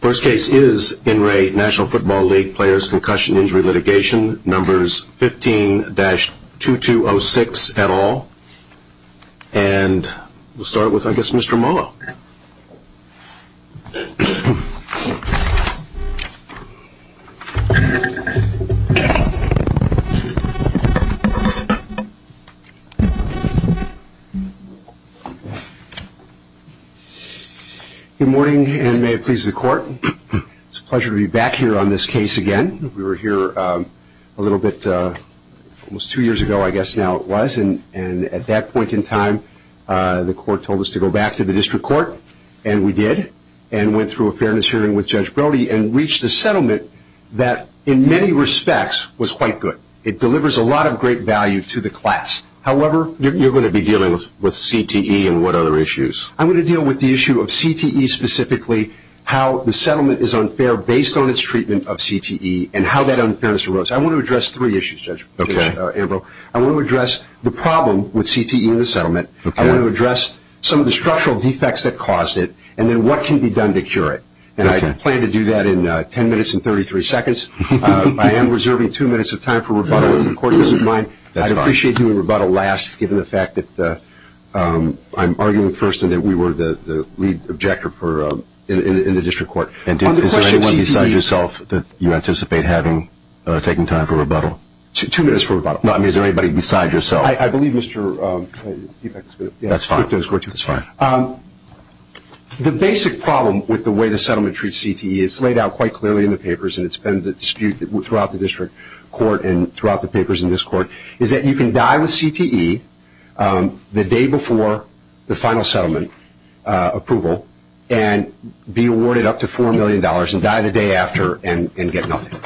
First case is NRA National Football League Players Concussion Injury Litigation, numbers 15-2206 et al. And we'll start with, I guess, Mr. Molo. Good morning and may it please the court. It's a pleasure to be back here on this case again. We were here a little bit, almost two years ago, I guess now it was. And at that point in time, the court told us to go back to the district court, and we did, and went through a fairness hearing with Judge Brody and reached a settlement that, in many respects, was quite good. It delivers a lot of great value to the class. However, you're going to be dealing with CTE and what other issues? I'm going to deal with the issue of CTE specifically, how the settlement is unfair based on its treatment of CTE, and how that unfairness arose. I want to address three issues, Judge Abreu. I want to address the problem with CTE in the settlement. I want to address some of the structural defects that caused it, and then what can be done to cure it. And I plan to do that in 10 minutes and 33 seconds. I am reserving two minutes of time for rebuttal to the court that's in mind. I'd appreciate you in rebuttal last, given the fact that I'm arguing first and that we were the lead objector in the district court. Is there anyone besides yourself that you anticipate having taking time for rebuttal? Two minutes for rebuttal. Is there anybody besides yourself? I believe Mr. Epect is going to speak to this question. That's fine. The basic problem with the way the settlement treats CTE is laid out quite clearly in the papers, and it's been the dispute throughout the district court and throughout the papers in this court, is that you can die with CTE the day before the final settlement approval and be awarded up to $4 million and die the day after and get nothing.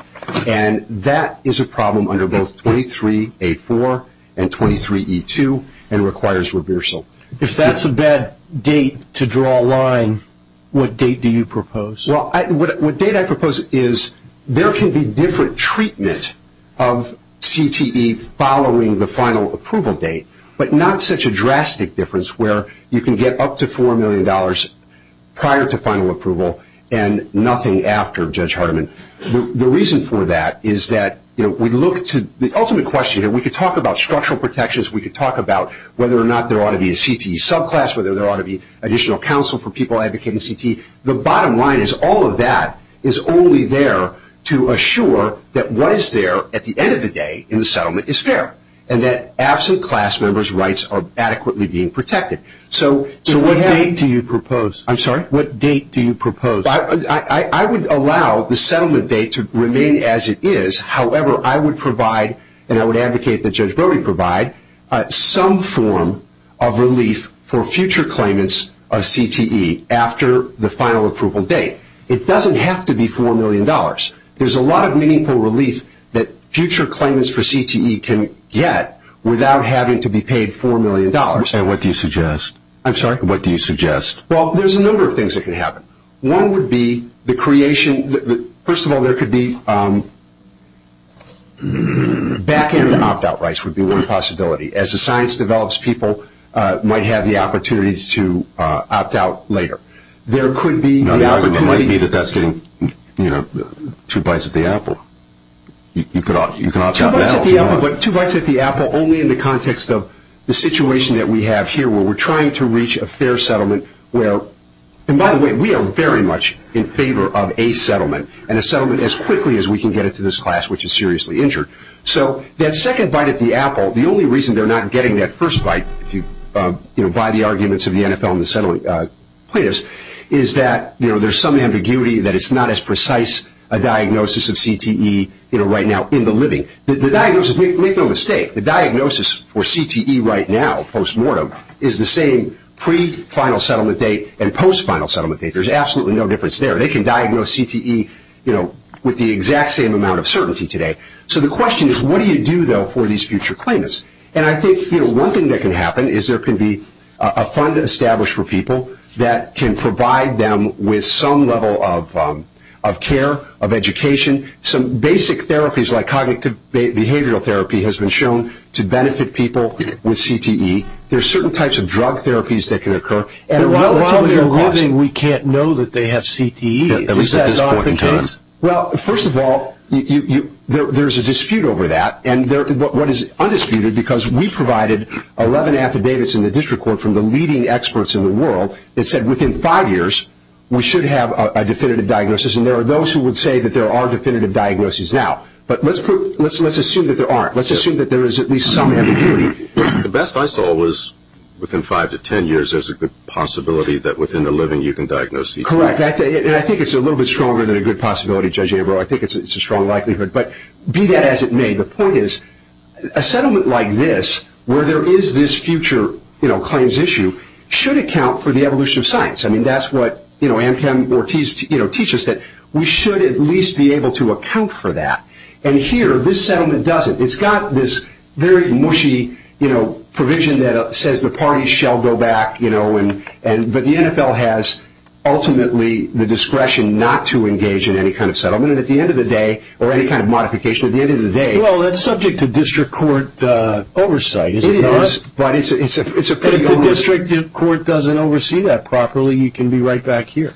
And that is a problem under both 23A4 and 23E2 and requires reversal. If that's a bad date to draw a line, what date do you propose? Well, what date I propose is there can be different treatment of CTE following the final approval date, but not such a drastic difference where you can get up to $4 million prior to final approval and nothing after Judge Hardiman. The reason for that is that we look to the ultimate question here. We could talk about structural protections. We could talk about whether or not there ought to be a CTE subclass, whether there ought to be additional counsel for people advocating CTE. The bottom line is all of that is only there to assure that what is there at the end of the day in the settlement is fair and that absent class members' rights are adequately being protected. So what date do you propose? I'm sorry? What date do you propose? I would allow the settlement date to remain as it is. However, I would provide, and I would advocate that Judge Brody provide, some form of relief for future claimants of CTE after the final approval date. It doesn't have to be $4 million. There's a lot of meaningful relief that future claimants for CTE can get without having to be paid $4 million. And what do you suggest? I'm sorry? What do you suggest? Well, there's a number of things that can happen. One would be the creation, first of all, there could be back into opt-out rights would be one possibility. As the science develops, people might have the opportunity to opt out later. There could be the opportunity. It might be that that's getting two bites at the apple. You could opt out now. Two bites at the apple, but two bites at the apple only in the context of the situation that we have here where we're trying to reach a fair settlement where, and by the way, we are very much in favor of a settlement, and a settlement as quickly as we can get it to this class which is seriously injured. So that second bite at the apple, the only reason they're not getting that first bite, if you buy the arguments of the NFL and the settlement players, is that there's some ambiguity that it's not as precise a diagnosis of CTE right now in the living. The diagnosis, make no mistake, the diagnosis for CTE right now, post-mortem, is the same pre-final settlement date and post-final settlement date. There's absolutely no difference there. They can diagnose CTE with the exact same amount of certainty today. So the question is what do you do, though, for these future claimants? And I think one thing that can happen is there can be a fund established for people that can provide them with some level of care, of education, some basic therapies like cognitive behavioral therapy has been shown to benefit people with CTE. There are certain types of drug therapies that can occur. And a lot of their clients... And a lot of their living, we can't know that they have CTE, at least at this point in time. Well, first of all, there's a dispute over that, and what is undisputed, because we provided 11 affidavits in the district court from the leading experts in the world that said within five years we should have a definitive diagnosis, and there are those who would say that there are definitive diagnoses now. But let's assume that there aren't. Let's assume that there is at least some way to do it. The best I saw was within five to ten years there's a good possibility that within the living you can diagnose CTE. Correct. And I think it's a little bit stronger than a good possibility, Judge Averill. I think it's a strong likelihood. But be that as it may, the point is a settlement like this, where there is this future claims issue, should account for the evolution of science. I mean, that's what Anaconda Ortiz teaches, that we should at least be able to account for that. And here, this settlement doesn't. It's got this very mushy provision that says the parties shall go back, but the NFL has ultimately the discretion not to engage in any kind of settlement, and at the end of the day, or any kind of modification at the end of the day. Well, that's subject to district court oversight, isn't it? It is. If the district court doesn't oversee that properly, you can be right back here.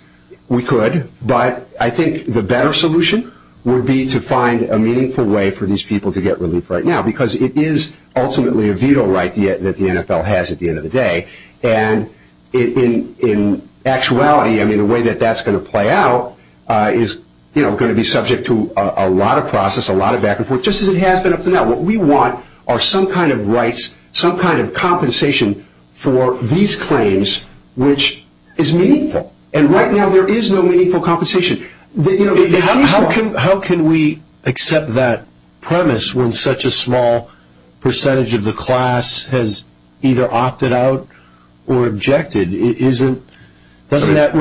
We could. But I think the better solution would be to find a meaningful way for these people to get relief right now, because it is ultimately a veto right that the NFL has at the end of the day. And in actuality, I mean, the way that that's going to play out is going to be subject to a lot of process, a lot of back and forth, just as it has been up to now. What we want are some kind of rights, some kind of compensation for these claims, which is meaningful. And right now, there is no meaningful compensation. How can we accept that premise when such a small percentage of the class has either opted out or objected? Doesn't that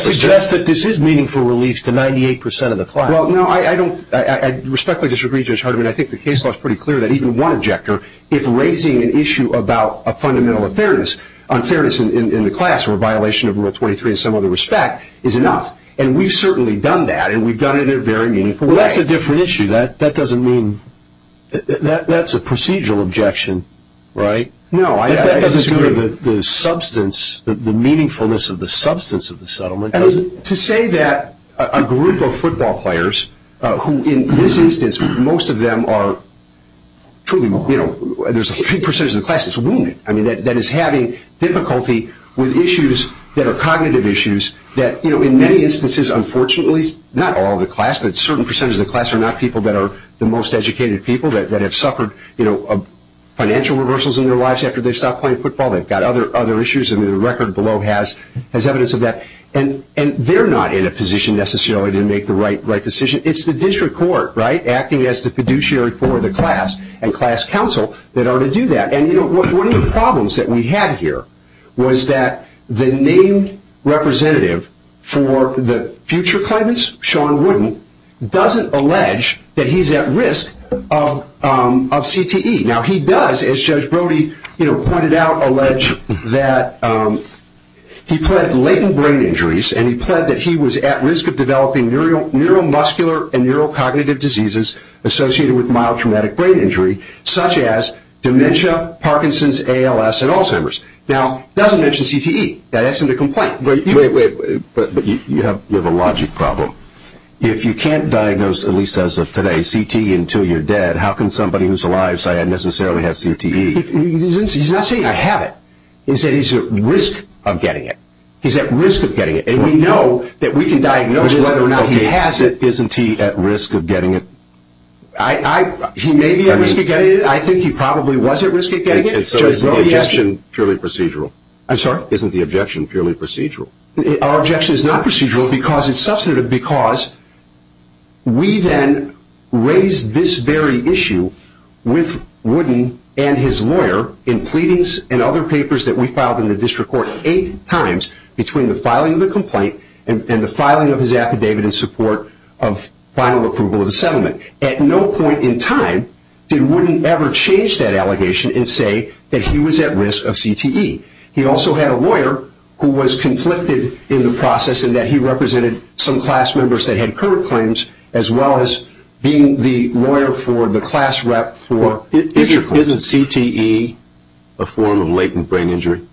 suggest that this is meaningful relief to 98% of the class? Well, no, I respectfully disagree, Judge Hardiman. I think the case law is pretty clear that even one objector, if raising an issue about a fundamental fairness, on fairness in the class or a violation of Rule 23 in some other respect, is enough. And we've certainly done that, and we've done it in a very meaningful way. Well, that's a different issue. That doesn't mean that's a procedural objection, right? No, that doesn't mean that the substance, the meaningfulness of the substance of the settlement doesn't. To say that a group of football players, who in this instance, most of them are truly, you know, there's a big percentage of the class that's wounded, I mean, that is having difficulty with issues that are cognitive issues, that, you know, in many instances, unfortunately, not all of the class, but certain percentages of the class are not people that are the most educated people, that have suffered, you know, financial reversals in their lives after they stopped playing football. They've got other issues, and the record below has evidence of that. And they're not in a position necessarily to make the right decision. It's the district court, right, acting as the fiduciary for the class and class counsel that are to do that. And, you know, one of the problems that we had here was that the named representative for the future claimants, Sean Wooden, doesn't allege that he's at risk of CTE. Now, he does, as Judge Brody, you know, pointed out, allege that he pleaded latent brain injuries, and he pleaded that he was at risk of developing neuromuscular and neurocognitive diseases associated with mild traumatic brain injury, such as dementia, Parkinson's, ALS, and Alzheimer's. Now, he doesn't mention CTE. That isn't a complaint. But you have a logic problem. If you can't diagnose, at least as of today, CT until you're dead, how can somebody who's alive say I necessarily have CTE? He's not saying I have it. He's saying he's at risk of getting it. He's at risk of getting it. And we know that we can diagnose whether or not he has it. Isn't he at risk of getting it? He may be at risk of getting it. I think he probably was at risk of getting it. There's no objection. It's purely procedural. I'm sorry? Isn't the objection purely procedural? Our objection is not procedural because it's substantive, because we then raised this very issue with Wooden and his lawyer in pleadings and other papers that we filed in the district court eight times between the filing of the complaint and the filing of his affidavit in support of final approval of the settlement. At no point in time did Wooden ever change that allegation and say that he was at risk of CTE. He also had a lawyer who was conflicted in the process in that he represented some class members that had current claims as well as being the lawyer for the class rep for future claims. Isn't CTE a form of latent brain injury?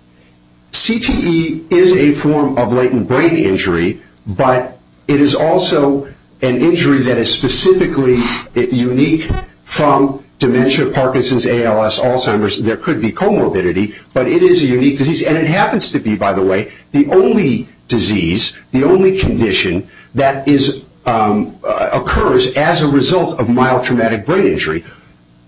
CTE is a form of latent brain injury, but it is also an injury that is specifically unique from dementia, Parkinson's, ALS, Alzheimer's. There could be comorbidity, but it is a unique disease, and it happens to be, by the way, the only disease, the only condition that occurs as a result of mild traumatic brain injury.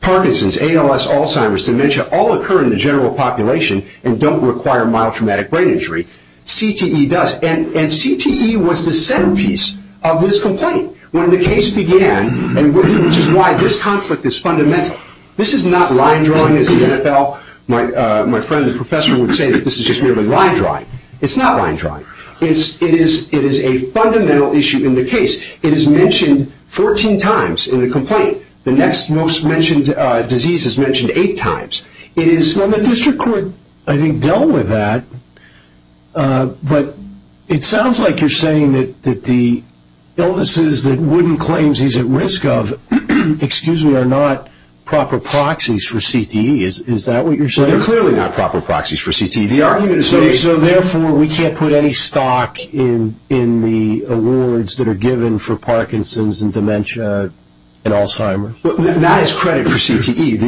Parkinson's, ALS, Alzheimer's, dementia all occur in the general population and don't require mild traumatic brain injury. CTE does, and CTE was the centerpiece of this complaint when the case began, which is why this conflict is fundamental. This is not line drawing as the NFL, my friend, the professor, would say that this is just merely line drawing. It's not line drawing. It is a fundamental issue in the case. It is mentioned 14 times in the complaint. The next most mentioned disease is mentioned eight times. It is when the district court, I think, dealt with that, but it sounds like you're saying that the illnesses that Wooden claims he's at risk of, excuse me, are not proper proxies for CTE. Is that what you're saying? They're clearly not proper proxies for CTE. So therefore we can't put any stock in the awards that are given for Parkinson's and dementia and Alzheimer's? Not as credit for CTE.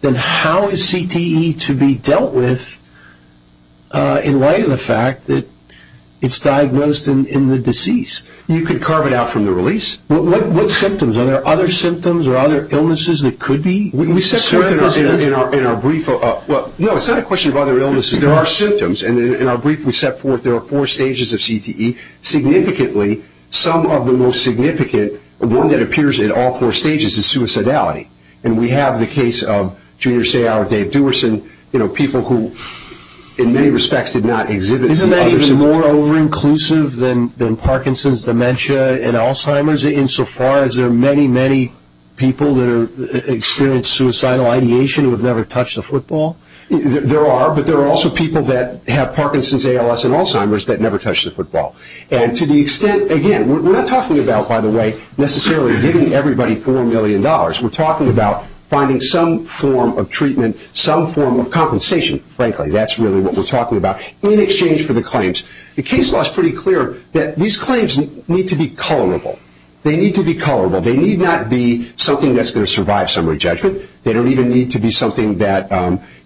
Then how is CTE to be dealt with in light of the fact that it's diagnosed in the disease? You could carve it out from the release. What symptoms? Are there other symptoms or other illnesses that could be? In our brief, well, no, it's not a question of other illnesses. There are symptoms, and in our brief we set forth there are four stages of CTE. Significantly, some of the most significant, one that appears in all four stages is suicidality, and we have the case of Junior Seau or Dave Dewarson, you know, people who in many respects did not exhibit suicide. Isn't that even more over-inclusive than Parkinson's, dementia, and Alzheimer's, insofar as there are many, many people that experience suicidal ideation who have never touched a football? There are, but there are also people that have Parkinson's, ALS, and Alzheimer's that never touched a football. And to the extent, again, we're not talking about, by the way, necessarily giving everybody $4 million. We're talking about finding some form of treatment, some form of compensation, frankly. That's really what we're talking about in exchange for the claims. The case law is pretty clear that these claims need to be colorable. They need to be colorable. They need not be something that's going to survive summary judgment. They don't even need to be something that,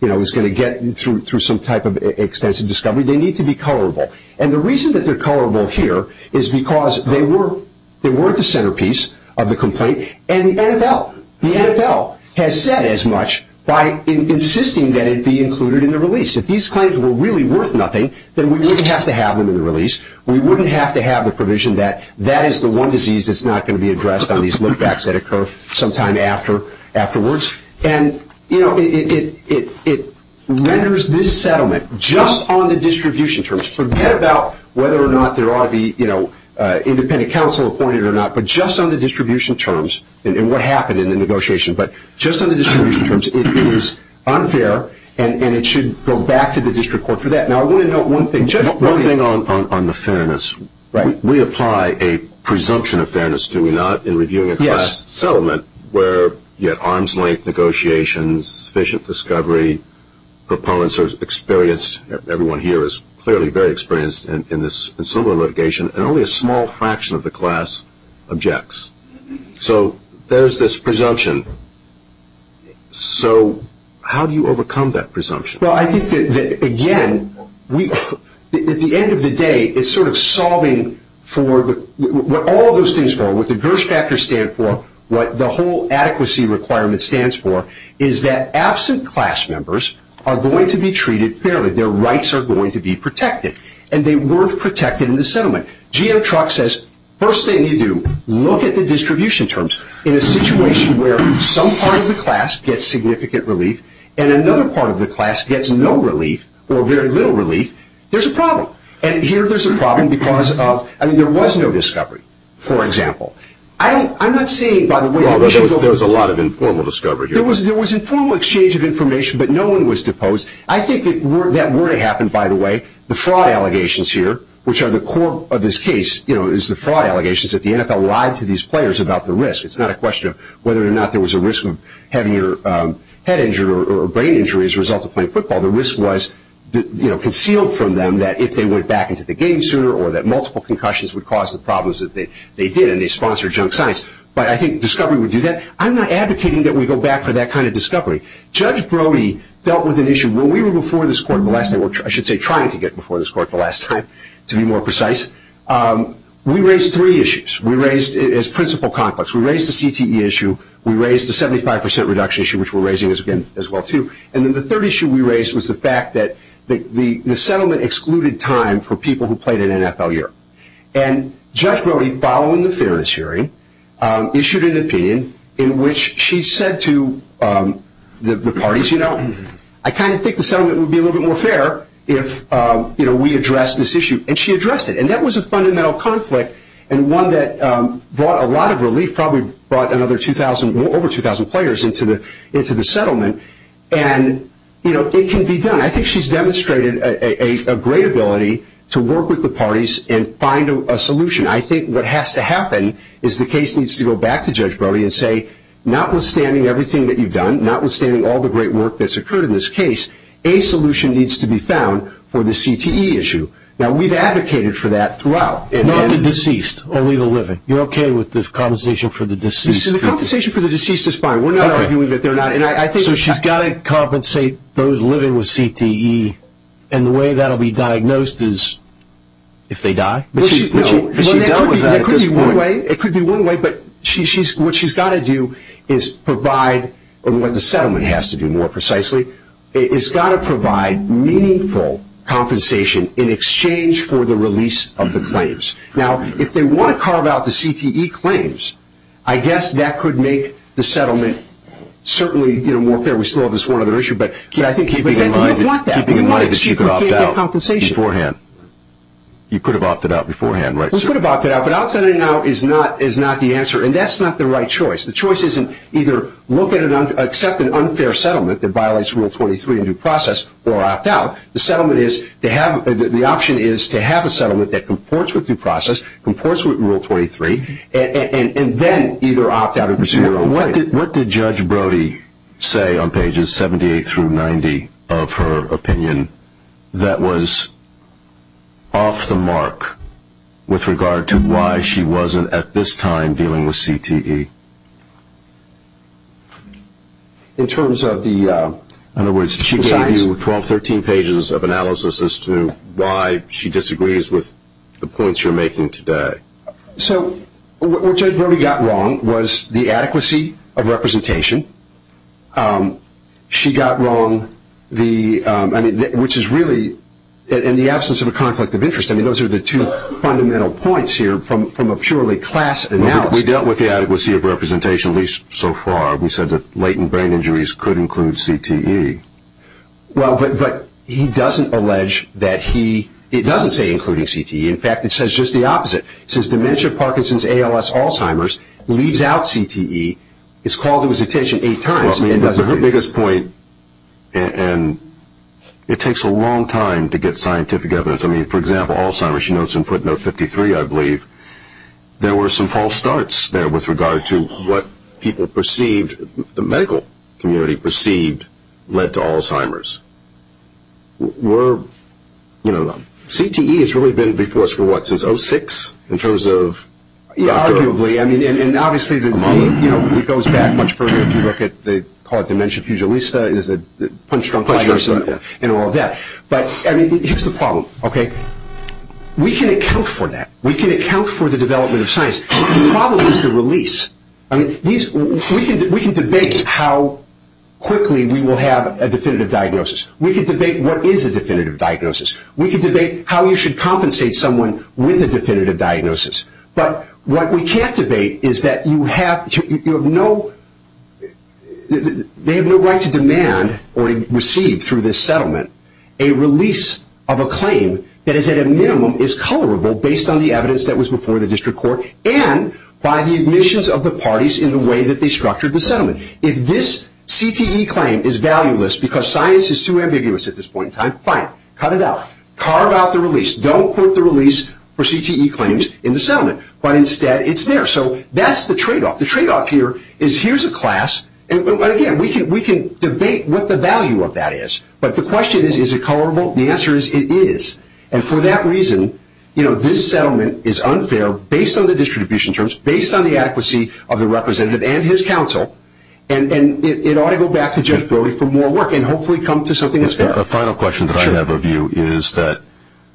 you know, is going to get through some type of extensive discovery. They need to be colorable. And the reason that they're colorable here is because they were the centerpiece of the complaint, and the NFL. The NFL has said as much by insisting that it be included in the release. If these claims were really worth nothing, then we wouldn't have to have them in the release. We wouldn't have to have the provision that that is the one disease that's not going to be addressed on these look backs that occur sometime afterwards. And, you know, it renders this settlement just on the distribution terms. Forget about whether or not there ought to be, you know, independent counsel appointed or not, but just on the distribution terms and what happened in the negotiation. But just on the distribution terms, it is unfair, and it should go back to the district court for that. Now, I want to note one thing. Just one thing on the fairness. Right. We apply a presumption of fairness, do we not, in reviewing a class settlement where you have arm's length negotiations, sufficient discovery, proponents are experienced. Everyone here is clearly very experienced in this similar litigation, and only a small fraction of the class objects. So there's this presumption. So how do you overcome that presumption? Well, I think that, again, at the end of the day, it's sort of solving for what all of those things are. What the GERS factors stand for, what the whole adequacy requirement stands for, is that absent class members are going to be treated fairly. Their rights are going to be protected. And they were protected in the settlement. G.M. Truck says, first thing you do, look at the distribution terms. In a situation where some part of the class gets significant relief and another part of the class gets no relief or very little relief, there's a problem. And here there's a problem because of, I mean, there was no discovery, for example. There was a lot of informal discovery. There was informal exchange of information, but no one was deposed. I think that where it happened, by the way, the fraud allegations here, which are the core of this case is the fraud allegations that the NFL lied to these players about the risk. It's not a question of whether or not there was a risk of having your head injured or brain injured as a result of playing football. The risk was concealed from them that if they went back into the game sooner or that multiple concussions would cause the problems that they did, and they sponsored junk science. But I think discovery would do that. I'm not advocating that we go back for that kind of discovery. Judge Brody dealt with an issue when we were before this court the last time, or I should say trying to get before this court the last time, to be more precise. We raised three issues. We raised, as principal conflicts, we raised the CTE issue. We raised the 75% reduction issue, which we're raising as well, too. And then the third issue we raised was the fact that the settlement excluded time for people who played in NFL Europe. And Judge Brody, following the fairness hearing, issued an opinion in which she said to the parties, you know, I kind of think the settlement would be a little bit more fair if we addressed this issue. And she addressed it. And that was a fundamental conflict and one that brought a lot of relief, probably brought over 2,000 players into the settlement. And, you know, it can be done. I think she's demonstrated a great ability to work with the parties and find a solution. I think what has to happen is the case needs to go back to Judge Brody and say, notwithstanding everything that you've done, notwithstanding all the great work that's occurred in this case, a solution needs to be found for the CTE issue. Now, we've advocated for that throughout. Not the deceased, only the living. You're okay with the compensation for the deceased? The compensation for the deceased is fine. We're not arguing that they're not. So she's got to compensate those living with CTE, and the way that will be diagnosed is if they die? It could be one way, but what she's got to do is provide, or what the settlement has to do more precisely, it's got to provide meaningful compensation in exchange for the release of the claims. Now, if they want to carve out the CTE claims, I guess that could make the settlement certainly, you know, more fair. We still have this one other issue, but I think you'd want that. You could have opted out beforehand. You could have opted out beforehand, right? You could have opted out, but opting out is not the answer, and that's not the right choice. The choice isn't either look at an unfair settlement that violates Rule 23 in due process or opt out. The option is to have a settlement that comports with due process, comports with Rule 23, and then either opt out or proceed your own way. What did Judge Brody say on pages 78 through 90 of her opinion that was off the mark with regard to why she wasn't, at this time, dealing with CTE? In terms of the 12, 13 pages of analysis as to why she disagrees with the points you're making today. So what Judge Brody got wrong was the adequacy of representation. She got wrong the, I mean, which is really, in the absence of a conflict of interest, I mean, those are the two fundamental points here from a purely class analysis. We dealt with the adequacy of representation at least so far. We said that latent brain injuries could include CTE. Well, but he doesn't allege that he, it doesn't say including CTE. In fact, it says just the opposite. It says dementia, Parkinson's, ALS, Alzheimer's leaves out CTE. It's called to his attention eight times. The biggest point, and it takes a long time to get scientific evidence. I mean, for example, Alzheimer's, she notes in footnote 53, I believe, there were some false starts there with regard to what people perceived, the medical community perceived, led to Alzheimer's. Were, you know, CTE has really been before us for what, since 06? In terms of. Arguably. I mean, and obviously it goes back much further. If you look at, they call it dementia pugilista. Is it. And all of that. But here's the problem, okay. We can account for that. We can account for the development of science. The problem is the release. I mean, we can debate how quickly we will have a definitive diagnosis. We can debate what is a definitive diagnosis. We can debate how you should compensate someone with a definitive diagnosis. But what we can't debate is that you have to, you have no, they have no right to demand or receive through this settlement a release of a claim that is at a minimum is colorable based on the evidence that was before the district court and by the admissions of the parties in the way that they structured the settlement. If this CTE claim is valueless because science is too ambiguous at this point in time, fine. Cut it out. Carve out the release. Don't put the release for CTE claims in the settlement. But instead, it's there. So that's the tradeoff. The tradeoff here is here's a class, and again, we can debate what the value of that is. But the question is, is it colorable? The answer is, it is. And for that reason, you know, this settlement is unfair based on the distribution terms, based on the adequacy of the representative and his counsel. And it ought to go back to judge Brody for more work and hopefully come to something that's fair. The final question that I have of you is that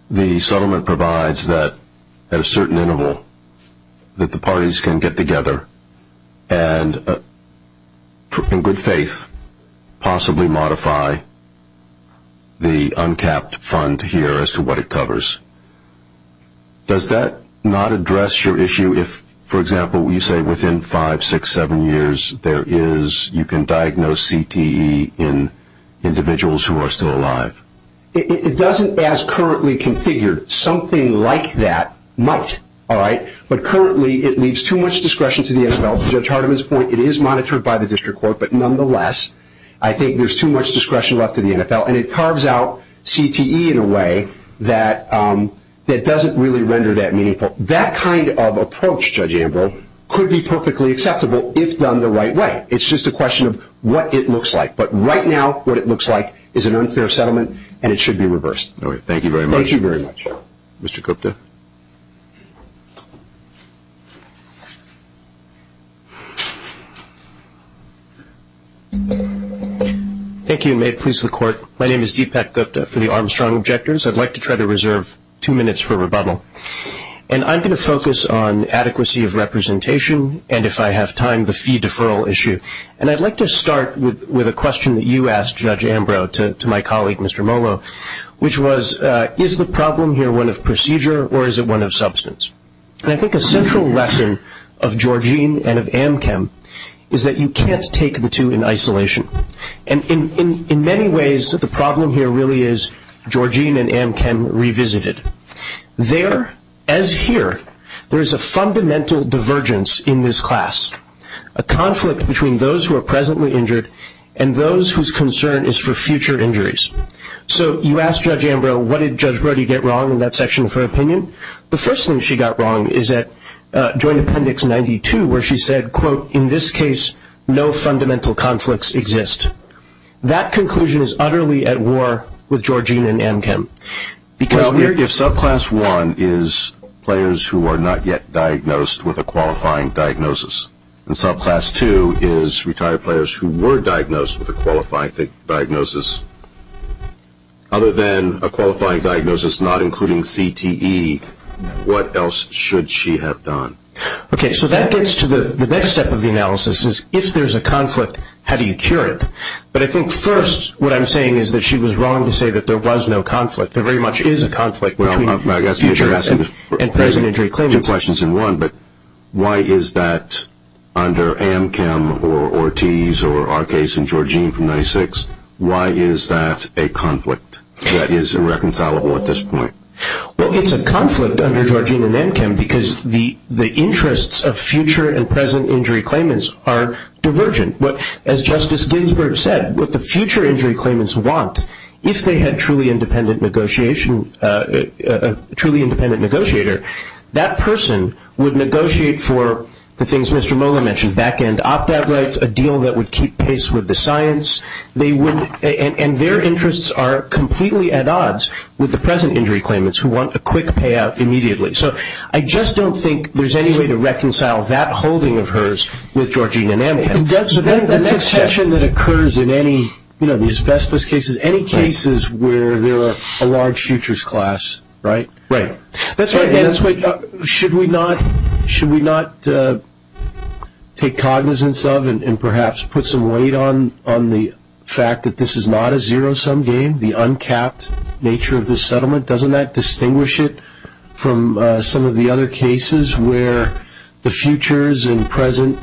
the settlement provides that at a certain interval that the parties can get together and, in good faith, possibly modify the uncapped fund here as to what it covers. Does that not address your issue if, for example, you say within five, six, seven years, you can diagnose CTE in individuals who are still alive? It doesn't as currently configured. Something like that might. All right. But currently, it leaves too much discretion to the NFL. To Judge Hardiman's point, it is monitored by the district court. But nonetheless, I think there's too much discretion left to the NFL, and it carves out CTE in a way that doesn't really render that meaningful. That kind of approach, Judge Abel, could be perfectly acceptable if done the right way. It's just a question of what it looks like. But right now, what it looks like is an unfair settlement, and it should be reversed. All right. Thank you very much. Thank you very much. Mr. Gupta. Thank you. May it please the Court. My name is Deepak Gupta for the Armstrong Objectors. I'd like to try to reserve two minutes for rebuttal. And I'm going to focus on adequacy of representation and, if I have time, the fee deferral issue. And I'd like to start with a question that you asked, Judge Ambrose, to my colleague, Mr. Molo, which was, is the problem here one of procedure or is it one of substance? And I think a central lesson of Georgine and of Amchem is that you can't take the two in isolation. And in many ways, the problem here really is Georgine and Amchem revisited. There, as here, there is a fundamental divergence in this class, a conflict between those who are presently injured and those whose concern is for future injuries. So you asked Judge Ambrose, what did Judge Brody get wrong in that section of her opinion? The first thing she got wrong is at Joint Appendix 92, where she said, quote, in this case, no fundamental conflicts exist. That conclusion is utterly at war with Georgine and Amchem. Because here your subclass one is players who are not yet diagnosed with a qualifying diagnosis. And subclass two is retired players who were diagnosed with a qualifying diagnosis. Other than a qualifying diagnosis not including CTE, what else should she have done? Okay. So that gets to the next step of the analysis is if there's a conflict, how do you cure it? But I think first what I'm saying is that she was wrong to say that there was no conflict. There very much is a conflict between future and present injury claims. Two questions in one, but why is that under Amchem or Ortiz or our case in Georgine from 96, why is that a conflict that is irreconcilable at this point? Well, it's a conflict under Georgine and Amchem because the interests of future and present injury claimants are divergent. As Justice Ginsburg said, what the future injury claimants want, if they had truly independent negotiation, a truly independent negotiator, that person would negotiate for the things Mr. Moeller mentioned, back-end opt-out rights, a deal that would keep pace with the science. And their interests are completely at odds with the present injury claimants who want a quick payout immediately. So I just don't think there's any way to reconcile that holding of hers with Georgine and Amchem. The next section that occurs in any, you know, the asbestos cases, any cases where there are a large futures class, right? Right. That's right. Should we not take cognizance of and perhaps put some weight on the fact that this is not a zero-sum game, the uncapped nature of this settlement? Doesn't that distinguish it from some of the other cases where the futures and present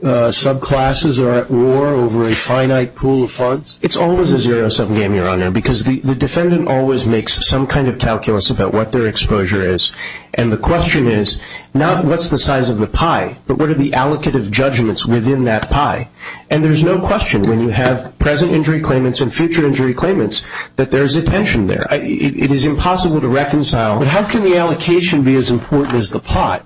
subclasses are at war over a finite pool of funds? It's always a zero-sum game, Your Honor, because the defendant always makes some kind of calculus about what their exposure is. And the question is not what's the size of the pie, but what are the allocated judgments within that pie. And there's no question when you have present injury claimants and future injury claimants that there's a tension there. It is impossible to reconcile. How can the allocation be as important as the pie?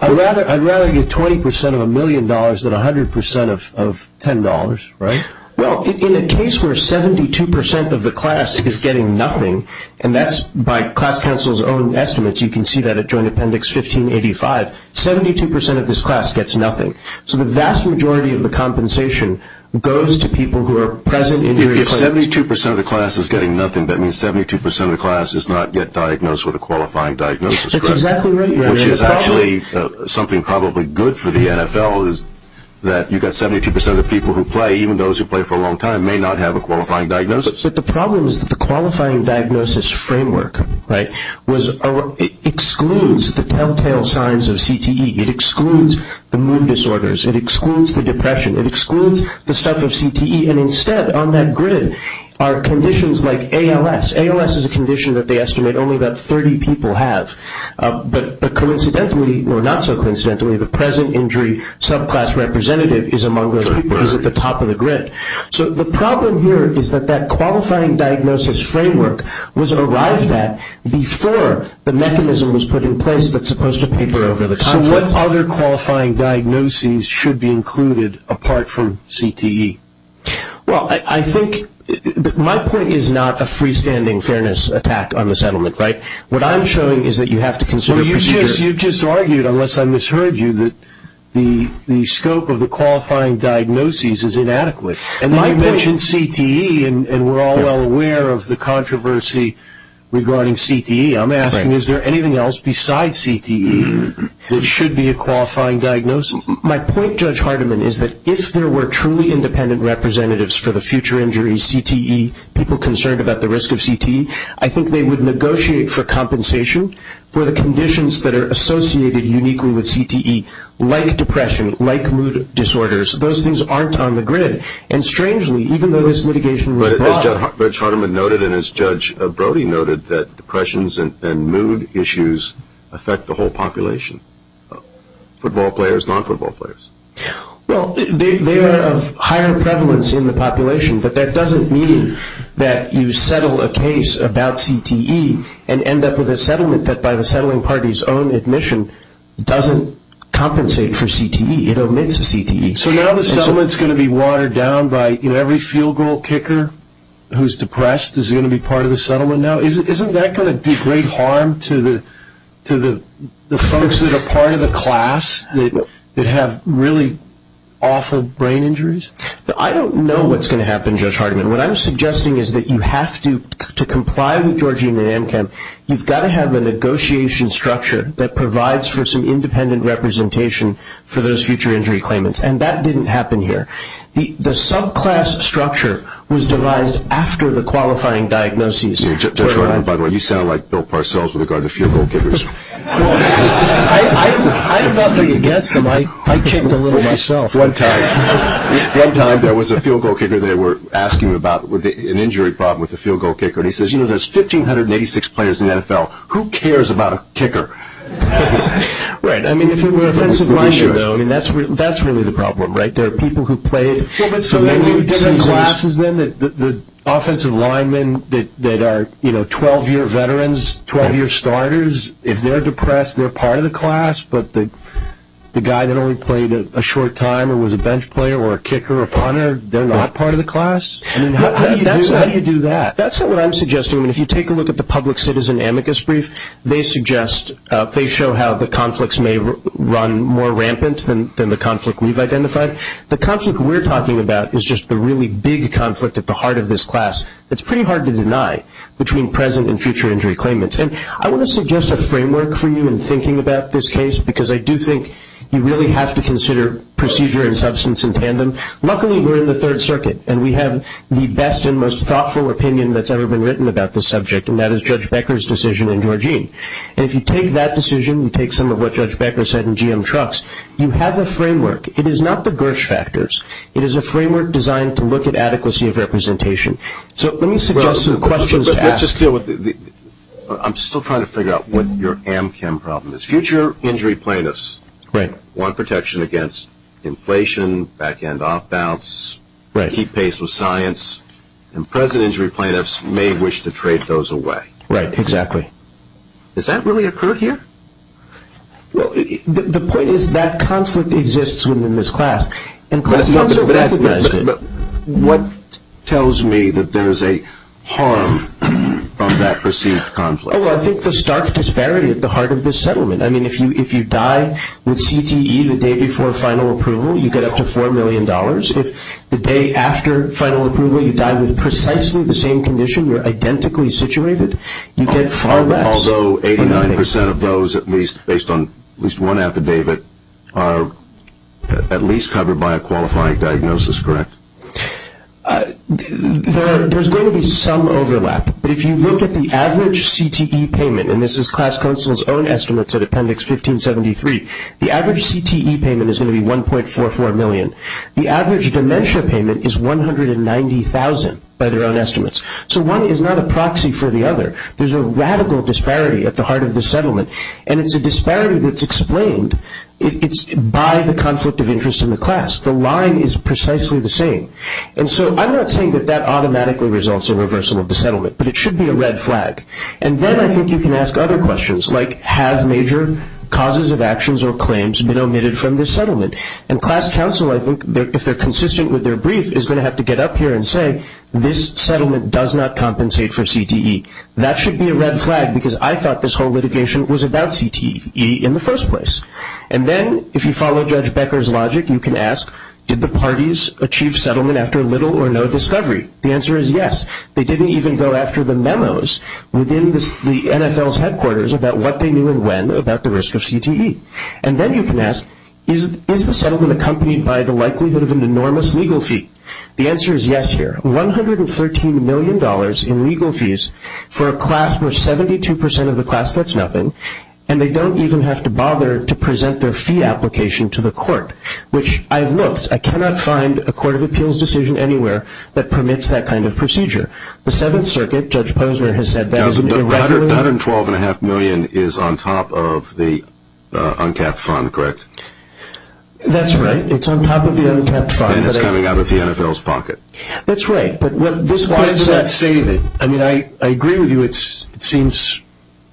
I'd rather get 20% of a million dollars than 100% of $10, right? Well, in a case where 72% of the class is getting nothing, and that's by class counsel's own estimates, you can see that at Joint Appendix 1585, 72% of this class gets nothing. So the vast majority of the compensation goes to people who are present injury claimants. 72% of the class is getting nothing. That means 72% of the class does not get diagnosed with a qualifying diagnosis, correct? That's exactly right, Your Honor. Which is actually something probably good for the NFL, is that you've got 72% of the people who play, even those who play for a long time, may not have a qualifying diagnosis. But the problem is that the qualifying diagnosis framework excludes the telltale signs of CTE. It excludes the mood disorders. It excludes the depression. It excludes the stuff of CTE. And instead on that grid are conditions like ALS. ALS is a condition that they estimate only about 30 people have. But coincidentally, or not so coincidentally, the present injury subclass representative is among those people who is at the top of the grid. So the problem here is that that qualifying diagnosis framework was arrived at before the mechanism was put in place that's supposed to paper over the top. So what other qualifying diagnoses should be included apart from CTE? Well, I think my point is not a freestanding fairness attack on the settlement, right? What I'm showing is that you have to consider procedures. You just argued, unless I misheard you, that the scope of the qualifying diagnoses is inadequate. And I mentioned CTE, and we're all well aware of the controversy regarding CTE. I'm asking is there anything else besides CTE that should be a qualifying diagnosis? My point, Judge Hardiman, is that if there were truly independent representatives for the future injuries, CTE, people concerned about the risk of CTE, I think they would negotiate for compensation for the conditions that are associated uniquely with CTE, like depression, like mood disorders. Those things aren't on the grid. And strangely, even though this litigation was brought up. As Judge Hardiman noted and as Judge Brody noted, that depressions and mood issues affect the whole population, football players, non-football players. Well, they are of higher prevalence in the population, but that doesn't mean that you settle a case about CTE and end up with a settlement that by the settling party's own admission doesn't compensate for CTE. It omits CTE. So now the settlement's going to be watered down by, you know, every field goal kicker who's depressed is going to be part of the settlement now? Isn't that going to do great harm to the folks that are part of the class that have really awful brain injuries? I don't know what's going to happen, Judge Hardiman. What I'm suggesting is that you have to comply with Georgian NAMCAM. You've got to have a negotiation structure that provides for some independent representation for those future injury claimants, and that didn't happen here. The subclass structure was devised after the qualifying diagnosis. Judge Hardiman, by the way, you sound like Bill Parcells with regard to field goal kickers. I'm not really against them. I checked a little myself. One time there was a field goal kicker. They were asking about an injury problem with a field goal kicker, and he says, you know, there's 1,586 players in the NFL. Who cares about a kicker? Right. I mean, if it were offensive linemen, though, I mean, that's really the problem, right? There are people who play in the field. So maybe we would give them classes then that the offensive linemen that are, you know, 12-year veterans, 12-year starters, if they're depressed, they're part of the class, but the guy that only played a short time or was a bench player or a kicker or punter, they're not part of the class? I mean, how do you do that? That's not what I'm suggesting. If you take a look at the public citizen amicus brief, they show how the conflicts may run more rampant than the conflict we've identified. The conflict we're talking about is just the really big conflict at the heart of this class. It's pretty hard to deny between present and future injury claimants. And I want to suggest a framework for you in thinking about this case, because I do think you really have to consider procedure and substance in tandem. Luckily, we're in the Third Circuit, and we have the best and most thoughtful opinion that's ever been written about this subject, and that is Judge Becker's decision in Georgene. And if you take that decision, you take some of what Judge Becker said in GM Trucks, you have a framework. It is not the Birch factors. It is a framework designed to look at adequacy of representation. So let me suggest some questions to ask. I'm still trying to figure out what your amchem problem is. Future injury plaintiffs want protection against inflation, back-end off-bounds, keep pace with science, and present injury plaintiffs may wish to trade those away. Right, exactly. Does that really occur here? Well, the point is that conflict exists within this class. But what tells me that there is a harm from that perceived conflict? Well, I think the stark disparity at the heart of this settlement. I mean, if you die with CTE the day before final approval, you get up to $4 million. If the day after final approval you die with precisely the same condition, you're identically situated, you get far less. Although 89% of those, at least based on at least one affidavit, are at least covered by a qualifying diagnosis, correct? There's going to be some overlap. But if you look at the average CTE payment, and this is class counsel's own estimates at Appendix 1573, the average CTE payment is going to be $1.44 million. The average dementia payment is $190,000 by their own estimates. So one is not a proxy for the other. There's a radical disparity at the heart of this settlement, and it's a disparity that's explained. It's by the conflict of interest in the class. The line is precisely the same. And so I'm not saying that that automatically results in reversal of the settlement, but it should be a red flag. And then I think you can ask other questions like, have major causes of actions or claims been omitted from this settlement? And class counsel, I think, if they're consistent with their brief, is going to have to get up here and say, this settlement does not compensate for CTE. That should be a red flag because I thought this whole litigation was about CTE in the first place. And then if you follow Judge Becker's logic, you can ask, did the parties achieve settlement after little or no discovery? The answer is yes. They didn't even go after the memos within the NFL's headquarters about what they knew and when about the risk of CTE. And then you can ask, is the settlement accompanied by the likelihood of an enormous legal fee? The answer is yes here. $113 million in legal fees for a class where 72% of the class gets nothing, and they don't even have to bother to present their fee application to the court, which I've looked. I cannot find a court of appeals decision anywhere that permits that kind of procedure. The Seventh Circuit, Judge Posner has said that. The $112.5 million is on top of the uncapped fund, correct? That's right. It's on top of the uncapped fund. And it's coming out of the NFL's pocket. That's right. But why does that save it? I mean, I agree with you. It seems